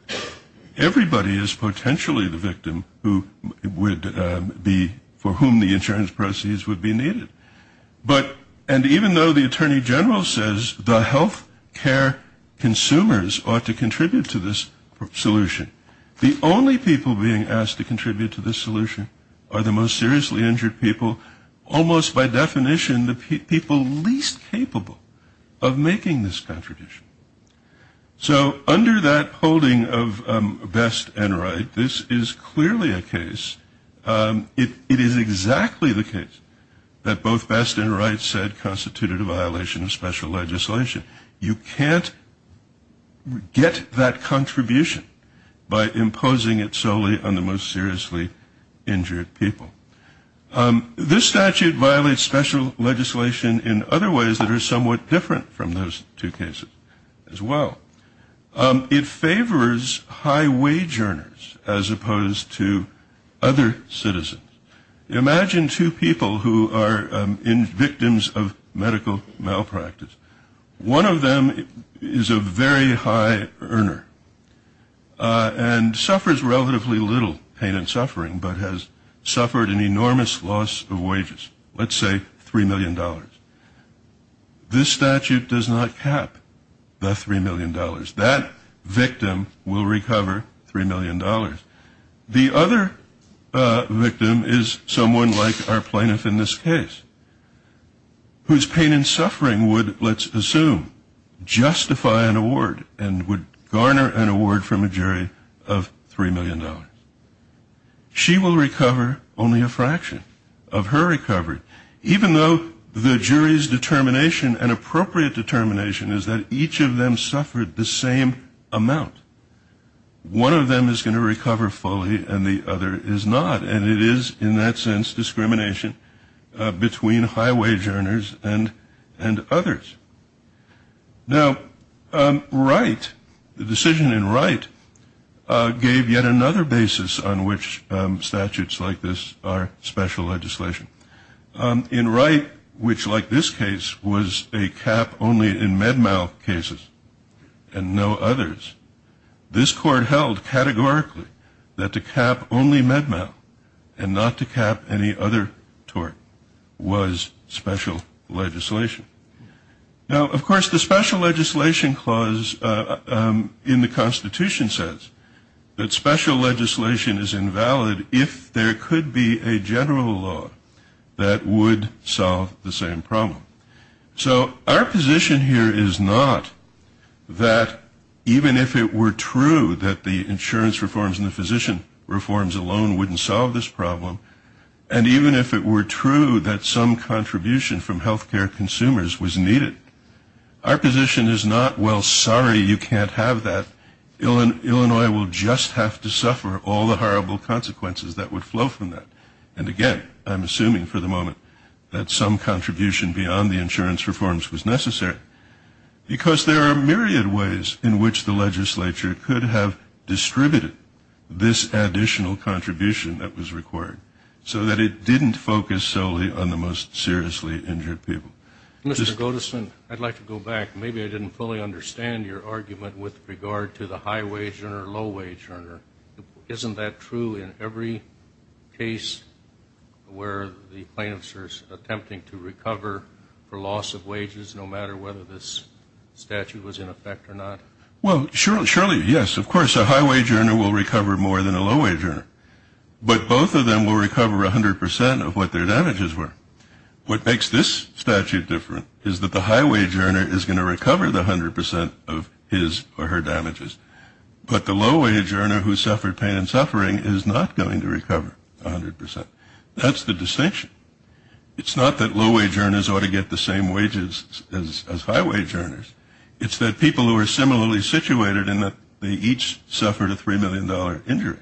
everybody is potentially the victim for whom the insurance proceeds would be needed. And even though the attorney general says the healthcare consumers ought to contribute to this solution, the only people being asked to contribute to this solution are the most seriously injured people, almost by definition the people least capable of making this contribution. So under that holding of best and right, this is clearly a case. It is exactly the case that both best and right said constituted a violation of special legislation. You can't get that contribution by imposing it solely on the most seriously injured people. This statute violates special legislation in other ways that are somewhat different from those two cases as well. It favors high wage earners as opposed to other citizens. Imagine two people who are victims of medical malpractice. One of them is a very high earner and suffers relatively little pain and suffering, but has suffered an enormous loss of wages, let's say $3 million. This statute does not cap the $3 million. That victim will recover $3 million. The other victim is someone like our plaintiff in this case, whose pain and suffering would, let's assume, justify an award and would garner an award from a jury of $3 million. She will recover only a fraction of her recovery. Even though the jury's determination and appropriate determination is that each of them suffered the same amount, one of them is going to recover fully and the other is not. And it is, in that sense, discrimination between high wage earners and others. Now, Wright, the decision in Wright, gave yet another basis on which statutes like this are special legislation. In Wright, which like this case was a cap only in med mal cases and no others, this court held categorically that to cap only med mal and not to cap any other tort was special legislation. Now, of course, the special legislation clause in the Constitution says that special legislation is invalid if there could be a general law that would solve the same problem. So our position here is not that even if it were true that the insurance reforms and the physician reforms alone wouldn't solve this problem, and even if it were true that some contribution from healthcare consumers was needed, our position is not, well, sorry, you can't have that. Illinois will just have to suffer all the horrible consequences that would flow from that. And, again, I'm assuming for the moment that some contribution beyond the insurance reforms was necessary, because there are a myriad of ways in which the legislature could have distributed this additional contribution that was required. So that it didn't focus solely on the most seriously injured people. Mr. Godeson, I'd like to go back. Maybe I didn't fully understand your argument with regard to the high-wage earner, low-wage earner. Isn't that true in every case where the plaintiffs are attempting to recover for loss of wages, no matter whether this statute was in effect or not? Well, surely, yes, of course, a high-wage earner will recover more than a low-wage earner. But both of them will recover 100% of what their damages were. What makes this statute different is that the high-wage earner is going to recover the 100% of his or her damages, but the low-wage earner who suffered pain and suffering is not going to recover 100%. That's the distinction. It's not that low-wage earners ought to get the same wages as high-wage earners. It's that people who are similarly situated in that they each suffered a $3 million injury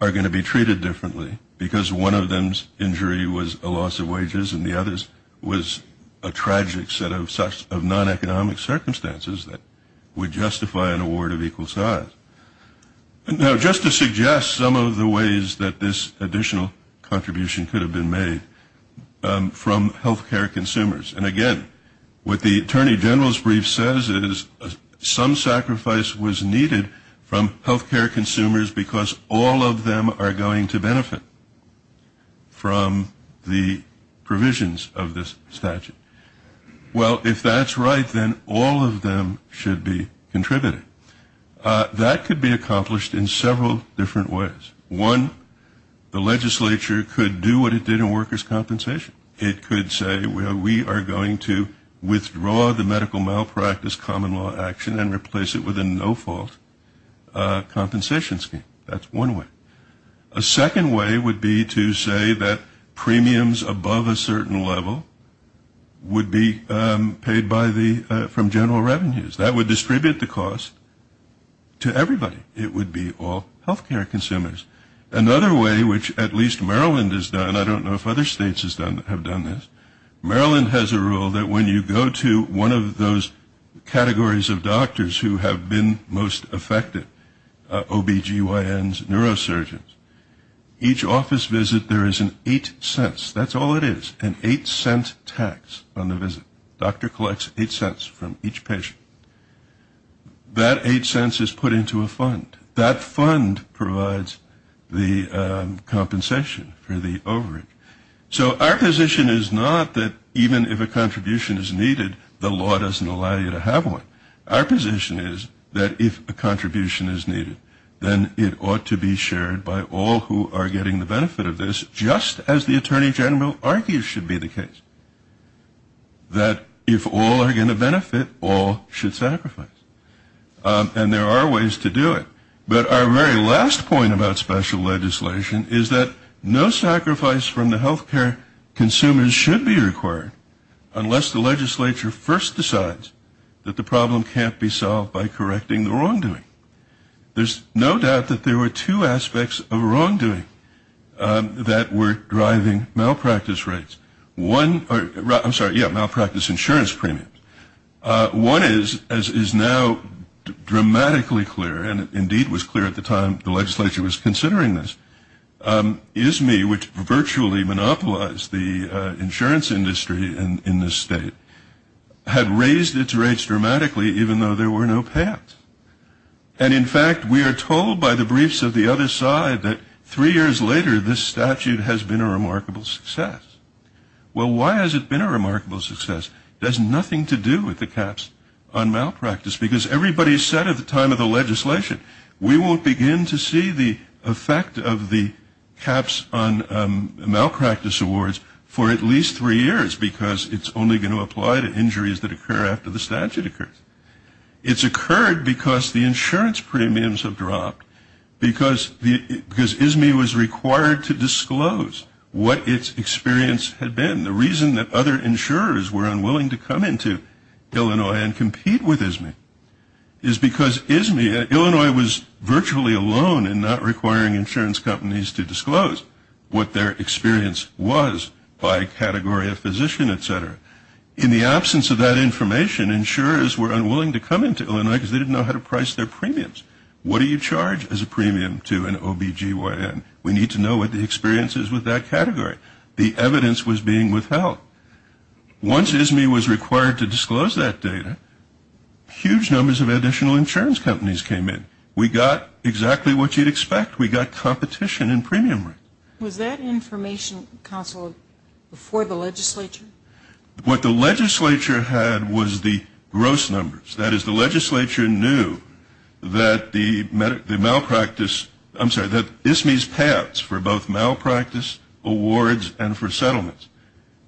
are going to be treated differently because one of them's injury was a loss of wages and the other's was a tragic set of non-economic circumstances that would justify an award of equal size. Now, just to suggest some of the ways that this additional contribution could have been made from health care consumers, and again, what the Attorney General's brief says is some sacrifice was needed from health care consumers because all of them are going to benefit from the provisions of this statute. Well, if that's right, then all of them should be contributing. That could be accomplished in several different ways. One, the legislature could do what it did in workers' compensation. It could say, well, we are going to withdraw the medical malpractice common law action and replace it with a no-fault compensation scheme. That's one way. A second way would be to say that premiums above a certain level would be paid from general revenues. That would distribute the cost to everybody. It would be all health care consumers. Another way, which at least Maryland has done, I don't know if other states have done this, Maryland has a rule that when you go to one of those categories of doctors who have been most affected, OBGYNs, neurosurgeons, each office visit there is an 8 cents. That's all it is, an 8 cent tax on the visit. The doctor collects 8 cents from each patient. That 8 cents is put into a fund. That fund provides the compensation for the overage. So our position is not that even if a contribution is needed, the law doesn't allow you to have one. Our position is that if a contribution is needed, then it ought to be shared by all who are getting the benefit of this, just as the Attorney General argues should be the case, that if all are going to benefit, all should sacrifice. And there are ways to do it. But our very last point about special legislation is that no sacrifice from the health care consumers should be required, unless the legislature first decides that the problem can't be solved by correcting the wrongdoing. There's no doubt that there were two aspects of wrongdoing that were driving malpractice insurance premiums. One is, as is now dramatically clear, and indeed was clear at the time the legislature was considering this, ISME, which virtually monopolized the insurance industry in this state, had raised its rates dramatically even though there were no payoffs. And in fact, we are told by the briefs of the other side that three years later, this statute has been a remarkable success. Well, why has it been a remarkable success? It has nothing to do with the caps on malpractice, because everybody said at the time of the legislation, we won't begin to see the effect of the caps on malpractice awards for at least three years, because it's only going to apply to injuries that occur after the statute occurs. It's occurred because the insurance premiums have dropped, because ISME was required to disclose what its experience had been. The reason that other insurers were unwilling to come into Illinois and compete with ISME is because ISME, Illinois was virtually alone in not requiring insurance companies to disclose what their experience was by category of physician, etc. In the absence of that information, insurers were unwilling to come into Illinois because they didn't know how to price their premiums. What do you charge as a premium to an OBGYN? We need to know what the experience is with that category. The evidence was being withheld. Once ISME was required to disclose that data, huge numbers of additional insurance companies came in. We got exactly what you'd expect. We got competition in premium rates. Was that information, counsel, before the legislature? What the legislature had was the gross numbers. That is, the legislature knew that ISME's payouts for both malpractice awards and for settlements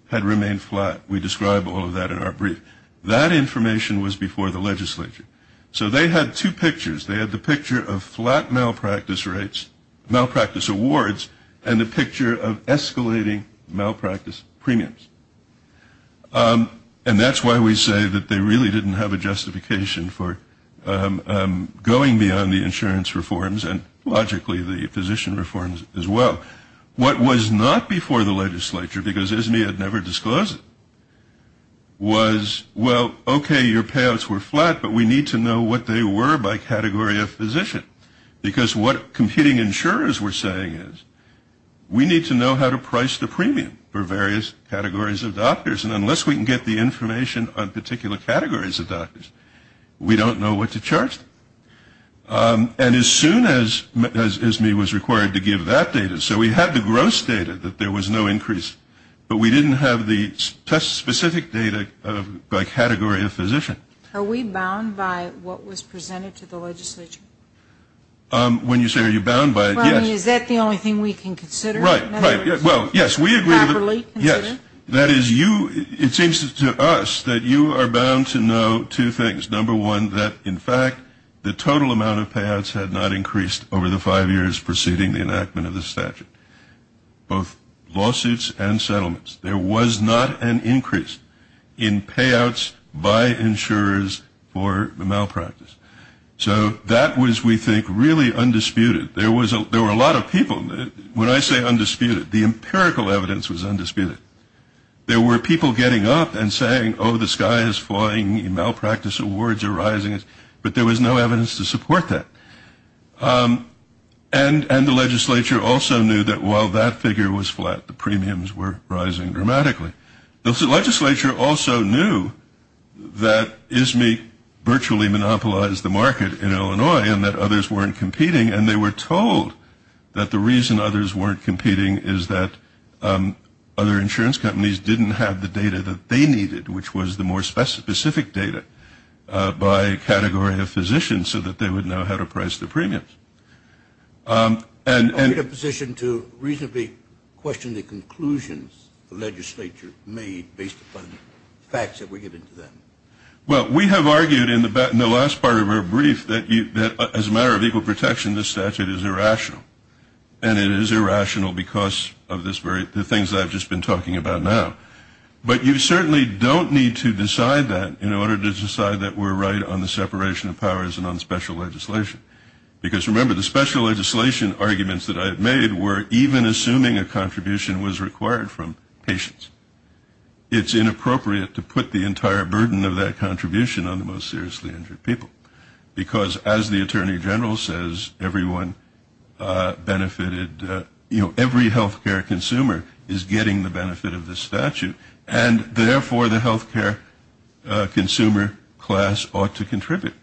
had remained flat. We describe all of that in our brief. That information was before the legislature. So they had two pictures. They had the picture of flat malpractice rates, malpractice awards, and the picture of escalating malpractice premiums. And that's why we say that they really didn't have a justification for going beyond the insurance reforms and logically the physician reforms as well. What was not before the legislature, because ISME had never disclosed it, was, well, okay, your payouts were flat, but we need to know what they were by category of physician, because what competing insurers were saying is, we need to know how to price the premium for various categories of doctors, and unless we can get the information on particular categories of doctors, we don't know what to charge. And as soon as ISME was required to give that data, so we had the gross data that there was no increase, but we didn't have the test-specific data by category of physician. Are we bound by what was presented to the legislature? When you say are you bound by it, yes. I mean, is that the only thing we can consider? Right, right. Well, yes, we agree. Properly consider? Yes. That is, it seems to us that you are bound to know two things. Number one, that, in fact, the total amount of payouts had not increased over the five years preceding the enactment of the statute, both lawsuits and settlements. There was not an increase in payouts by insurers for the malpractice. So that was, we think, really undisputed. There were a lot of people. When I say undisputed, the empirical evidence was undisputed. There were people getting up and saying, oh, the sky is falling, malpractice awards are rising, but there was no evidence to support that. And the legislature also knew that while that figure was flat, the premiums were rising dramatically. The legislature also knew that ISME virtually monopolized the market in Illinois and that others weren't competing, and they were told that the reason others weren't competing is that other insurance companies didn't have the data that they needed, which was the more specific data by category of physicians so that they would know how to price the premiums. Are you in a position to reasonably question the conclusions the legislature made based upon the facts that we give into that? Well, we have argued in the last part of our brief that as a matter of equal protection, this statute is irrational. And it is irrational because of the things I've just been talking about now. But you certainly don't need to decide that in order to decide that we're right on the separation of powers and on special legislation. Because remember, the special legislation arguments that I've made were even assuming a contribution was required from patients. It's inappropriate to put the entire burden of that contribution on the most seriously injured people, because as the attorney general says, everyone benefited, you know, every health care consumer is getting the benefit of this statute, and therefore, the health care consumer class ought to contribute.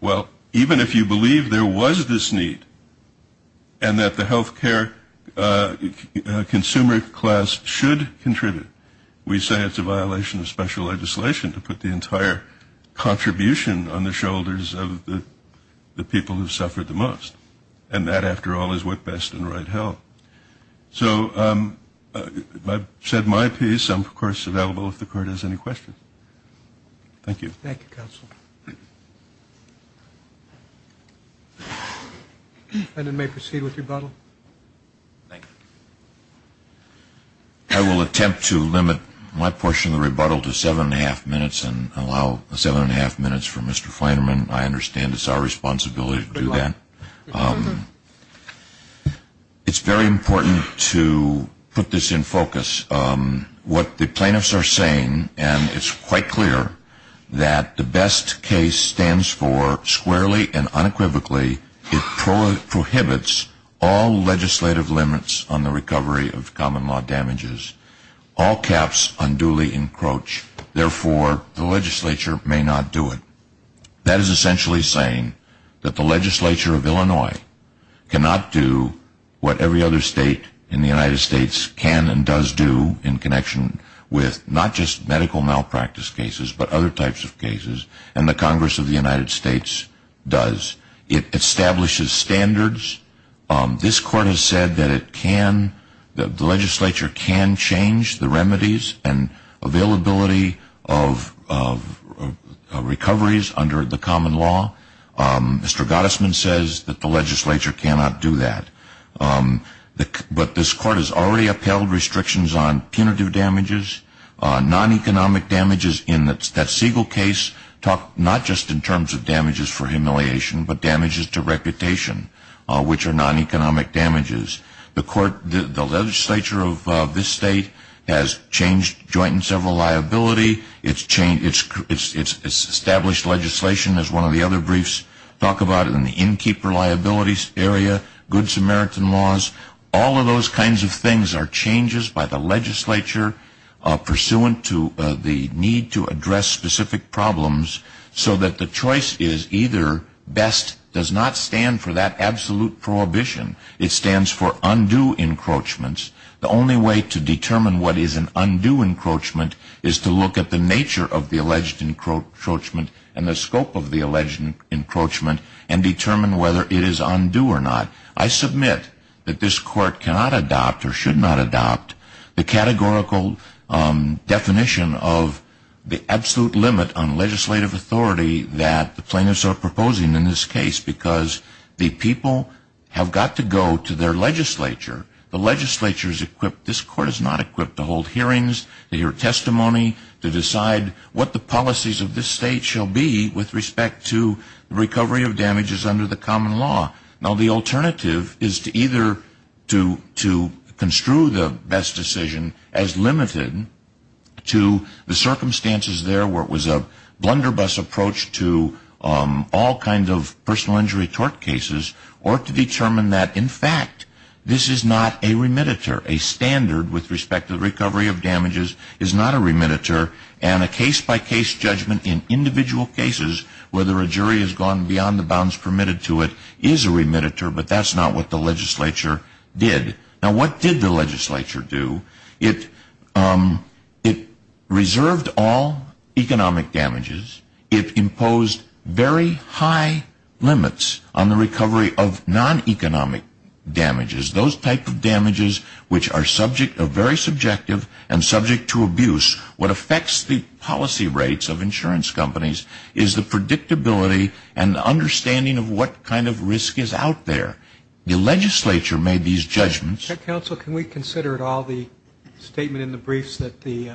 Well, even if you believe there was this need and that the health care consumer class should contribute, we say it's a violation of special legislation to put the entire contribution on the shoulders of the people who suffered the most. And that, after all, is what best and right health. So I've said my piece. I'm, of course, available if the court has any questions. Thank you. Thank you, counsel. And it may proceed with rebuttal. I will attempt to limit my portion of the rebuttal to seven and a half minutes and allow seven and a half minutes for Mr. Flanerman. I understand it's our responsibility to do that. It's very important to put this in focus. What the plaintiffs are saying, and it's quite clear, that the BEST case stands for, squarely and unequivocally, it prohibits all legislative limits on the recovery of common law damages. All caps unduly encroach. Therefore, the legislature may not do it. That is essentially saying that the legislature of Illinois cannot do what every other state in the United States can and does do in connection with not just medical malpractice cases but other types of cases, and the Congress of the United States does. It establishes standards. This court has said that the legislature can change the remedies and availability of recoveries under the common law. Mr. Gottesman says that the legislature cannot do that. But this court has already upheld restrictions on punitive damages, non-economic damages. That Siegel case talked not just in terms of damages for humiliation but damages to reputation, which are non-economic damages. The legislature of this state has changed joint and several liability. It's established legislation, as one of the other briefs talk about it, in the innkeeper liabilities area, goods American laws. All of those kinds of things are changes by the legislature pursuant to the need to address specific problems so that the choice is either best does not stand for that absolute prohibition. It stands for undue encroachments. The only way to determine what is an undue encroachment is to look at the nature of the alleged encroachment and the scope of the alleged encroachment and determine whether it is undue or not. I submit that this court cannot adopt or should not adopt the categorical definition of the absolute limit on legislative authority that the plaintiffs are proposing in this case because the people have got to go to their legislature. The legislature is equipped. This court is not equipped to hold hearings, to hear testimony, to decide what the policies of this state shall be with respect to recovery of damages under the common law. Now, the alternative is to either construe the best decision as limited to the circumstances there where it was a blunderbuss approach to all kinds of personal injury tort cases or to determine that, in fact, this is not a remediator. A standard with respect to recovery of damages is not a remediator, and a case-by-case judgment in individual cases, whether a jury has gone beyond the bounds permitted to it, is a remediator, but that's not what the legislature did. Now, what did the legislature do? It reserved all economic damages. It imposed very high limits on the recovery of non-economic damages, those types of damages which are very subjective and subject to abuse. What affects the policy rates of insurance companies is the predictability and the understanding of what kind of risk is out there. The legislature made these judgments. Counsel, can we consider at all the statement in the briefs that the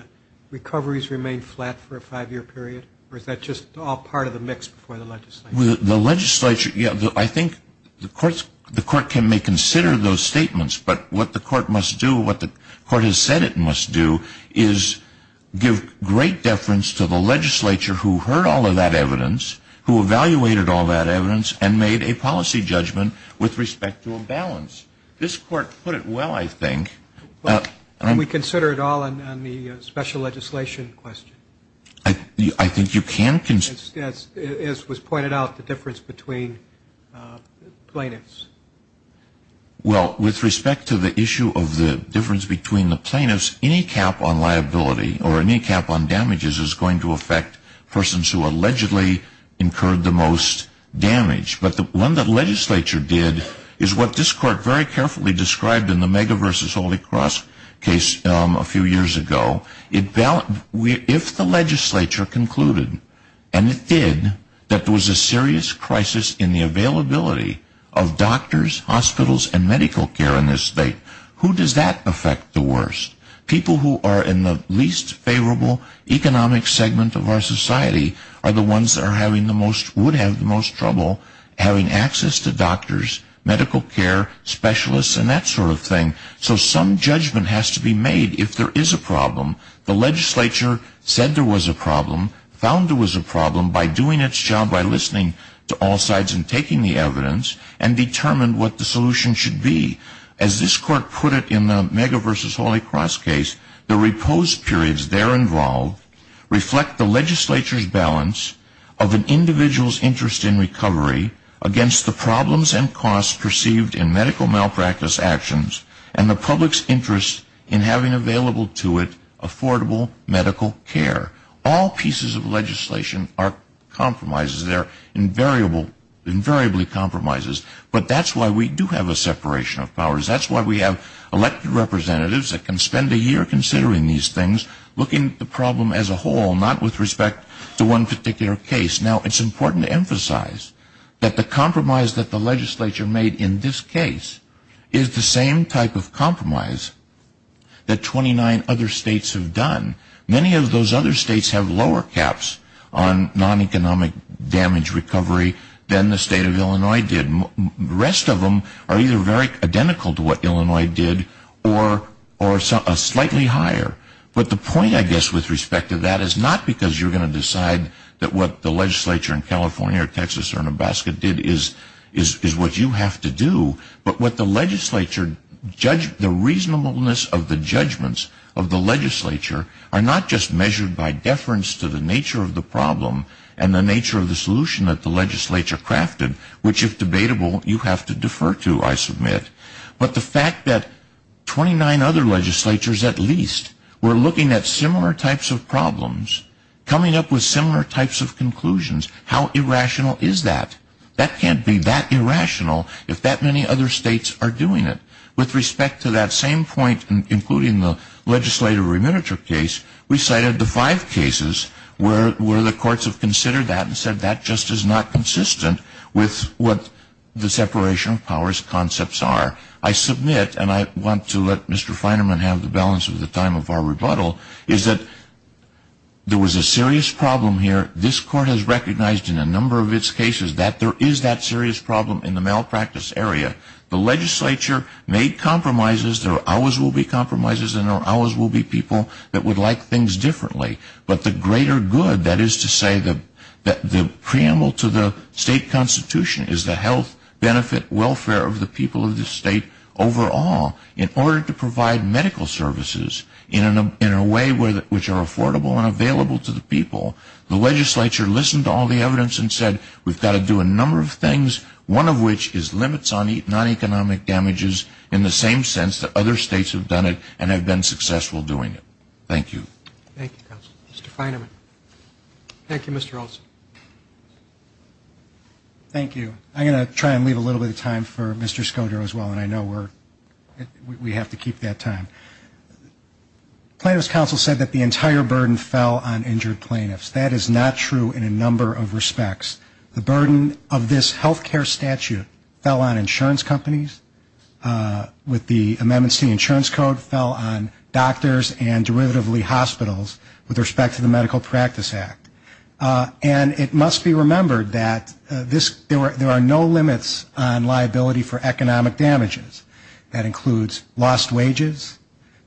recoveries remain flat for a five-year period, or is that just all part of a mix before the legislature? The legislature, yeah, I think the court may consider those statements, but what the court must do, what the court has said it must do, is give great deference to the legislature who heard all of that evidence, who evaluated all that evidence, and made a policy judgment with respect to a balance. This court put it well, I think. Can we consider it all on the special legislation question? I think you can consider it. As was pointed out, the difference between plaintiffs. Well, with respect to the issue of the difference between the plaintiffs, any cap on liability or any cap on damages is going to affect persons who allegedly incurred the most damage. But what the legislature did is what this court very carefully described in the Mega v. Holy Cross case a few years ago. If the legislature concluded, and it did, that there was a serious crisis in the availability of doctors, hospitals, and medical care in this state, who does that affect the worst? People who are in the least favorable economic segment of our society are the ones that would have the most trouble having access to doctors, medical care, specialists, and that sort of thing. So some judgment has to be made if there is a problem. The legislature said there was a problem, found there was a problem, by doing its job by listening to all sides and taking the evidence, and determined what the solution should be. As this court put it in the Mega v. Holy Cross case, the reposed periods there and now reflect the legislature's balance of an individual's interest in recovery against the problems and costs perceived in medical malpractice actions and the public's interest in having available to it affordable medical care. All pieces of legislation are compromises. They're invariably compromises. But that's why we do have a separation of powers. That's why we have elected representatives that can spend a year considering these things, looking at the problem as a whole, not with respect to one particular case. Now it's important to emphasize that the compromise that the legislature made in this case is the same type of compromise that 29 other states have done. Many of those other states have lower caps on non-economic damage recovery than the state of Illinois did. The rest of them are either very identical to what Illinois did or slightly higher. But the point, I guess, with respect to that is not because you're going to decide that what the legislature in California or Texas or Nebraska did is what you have to do, but the reasonableness of the judgments of the legislature are not just measured by deference to the nature of the problem and the nature of the solution that the legislature crafted, which, if debatable, you have to defer to, I submit. But the fact that 29 other legislatures, at least, were looking at similar types of problems, coming up with similar types of conclusions, how irrational is that? That can't be that irrational if that many other states are doing it. With respect to that same point, including the legislative remunerative case, we cited the five cases where the courts have considered that and said that just is not consistent with what the separation of powers concepts are. I submit, and I want to let Mr. Feinerman have the balance of the time of our rebuttal, is that there was a serious problem here. This court has recognized in a number of its cases that there is that serious problem in the malpractice area. The legislature made compromises. There always will be compromises and there always will be people that would like things differently. But the greater good, that is to say that the preamble to the state constitution is the health, benefit, welfare of the people of the state overall. In order to provide medical services in a way which are affordable and available to the people, the legislature listened to all the evidence and said we've got to do a number of things, one of which is limits on non-economic damages in the same sense that other states have done it and have been successful doing it. Thank you. Thank you, Counselor. Mr. Feinerman. Thank you, Mr. Olson. Thank you. I'm going to try and leave a little bit of time for Mr. Scodro as well, and I know we have to keep that time. Plaintiff's counsel said that the entire burden fell on injured plaintiffs. That is not true in a number of respects. The burden of this health care statute fell on insurance companies. With the amendments to the insurance code fell on doctors and derivatively hospitals with respect to the Medical Practice Act. And it must be remembered that there are no limits on liability for economic damages. That includes lost wages,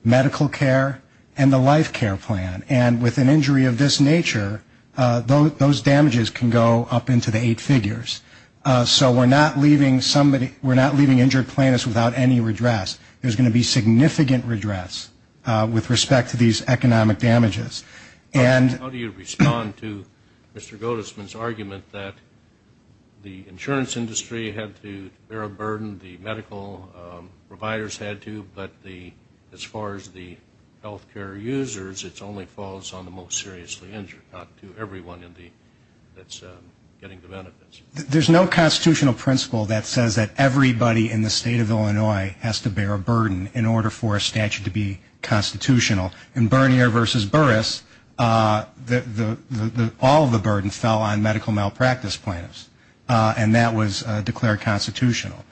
medical care, and the life care plan. And with an injury of this nature, those damages can go up into the eight figures. So we're not leaving injured plaintiffs without any redress. There's going to be significant redress with respect to these economic damages. How do you respond to Mr. Gottesman's argument that the insurance industry had to bear a burden, the medical providers had to, but as far as the health care users, it only falls on the most seriously injured, not to everyone that's getting the benefits? There's no constitutional principle that says that everybody in the state of Illinois has to bear a burden in order for a statute to be constitutional. In Bernier v. Burris, all of the burden fell on medical malpractice plaintiffs, and that was declared constitutional.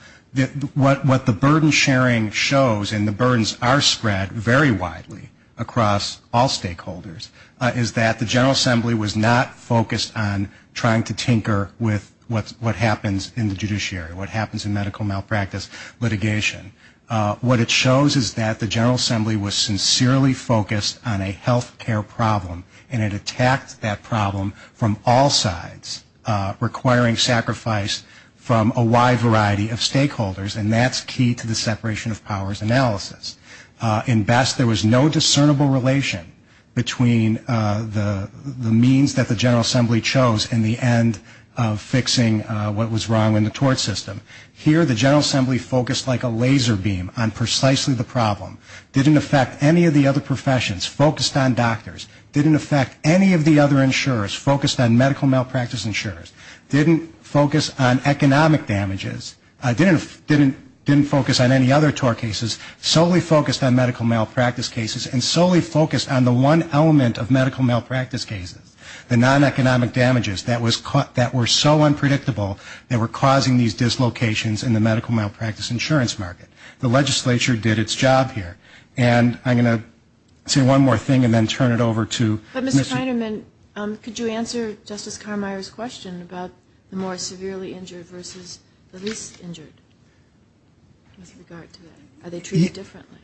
What the burden sharing shows, and the burdens are spread very widely across all stakeholders, is that the General Assembly was not focused on trying to tinker with what happens in the judiciary, what happens in medical malpractice litigation. What it shows is that the General Assembly was sincerely focused on a health care problem, and it attacked that problem from all sides, requiring sacrifice from a wide variety of stakeholders, and that's key to the separation of powers analysis. In Best, there was no discernible relation between the means that the General Assembly chose and the end of fixing what was wrong in the tort system. Here, the General Assembly focused like a laser beam on precisely the problem. It didn't affect any of the other professions, focused on doctors. It didn't affect any of the other insurers, focused on medical malpractice insurers. It didn't focus on economic damages. It didn't focus on any other tort cases, solely focused on medical malpractice cases, and solely focused on the one element of medical malpractice cases, the non-economic damages that were so unpredictable, they were causing these dislocations in the medical malpractice insurance market. The legislature did its job here. And I'm going to say one more thing and then turn it over to Ms. But, Mr. Scheinerman, could you answer Justice Carmeier's question about the more severely injured versus the least injured with regard to that? Are they treated differently?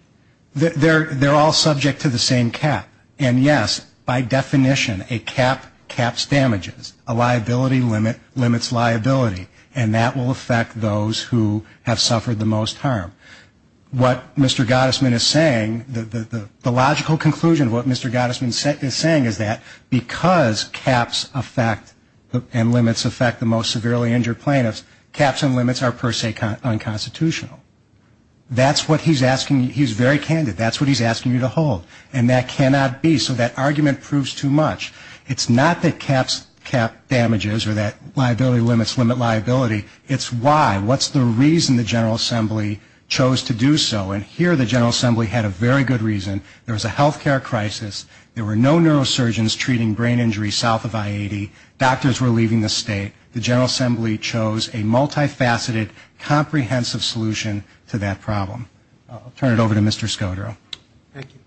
They're all subject to the same cap, and yes, by definition, a cap caps damages. A liability limits liability, and that will affect those who have suffered the most harm. What Mr. Gottesman is saying, the logical conclusion of what Mr. Gottesman is saying is that because caps affect and limits affect the most severely injured plaintiffs, caps and limits are per se unconstitutional. That's what he's asking you. He's very candid. That's what he's asking you to hold, and that cannot be. So that argument proves too much. It's not that caps cap damages or that liability limits limit liability. It's why. What's the reason the General Assembly chose to do so? And here the General Assembly had a very good reason. There was a health care crisis. There were no neurosurgeons treating brain injuries south of I-80. Doctors were leaving the state. The General Assembly chose a multifaceted, comprehensive solution to that problem. I'll turn it over to Mr. Scodro. Thank you.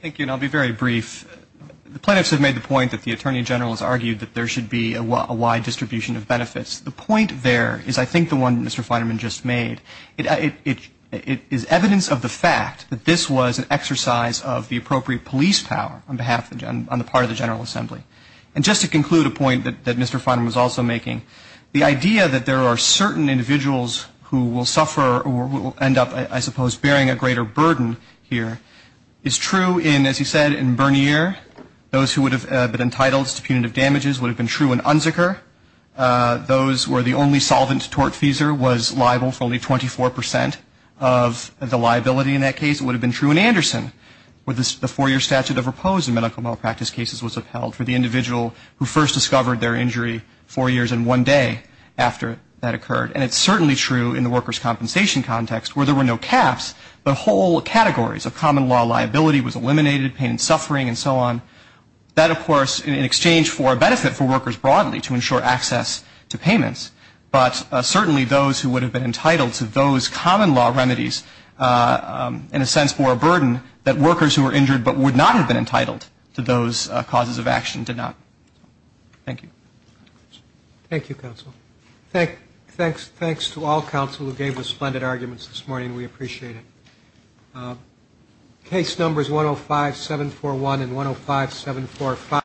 Thank you, and I'll be very brief. The plaintiffs have made the point that the Attorney General has argued that there should be a wide distribution of benefits. The point there is I think the one that Mr. Feynman just made. It is evidence of the fact that this was an exercise of the appropriate police power on the part of the General Assembly. And just to conclude a point that Mr. Feynman was also making, the idea that there are certain individuals who will suffer or who will end up, I suppose, bearing a greater burden here is true in, as he said, in Bernier. Those who would have been entitled to punitive damages would have been true in Unzicker. Those were the only solvents. Tortfeasor was liable for only 24 percent of the liability in that case. It would have been true in Anderson where the four-year statute of repose in medical malpractice cases was upheld for the individual who first discovered their injury four years and one day after that occurred. And it's certainly true in the workers' compensation context where there were no caps, but whole categories of common law liability was eliminated, pain and suffering and so on. That, of course, in exchange for a benefit for workers broadly to ensure access to payments, but certainly those who would have been entitled to those common law remedies, in a sense, that workers who were injured but would not have been entitled to those causes of action did not. Thank you. Thank you, counsel. Thanks to all counsel who gave us splendid arguments this morning. We appreciate it. Case numbers 105-741 and 105-745.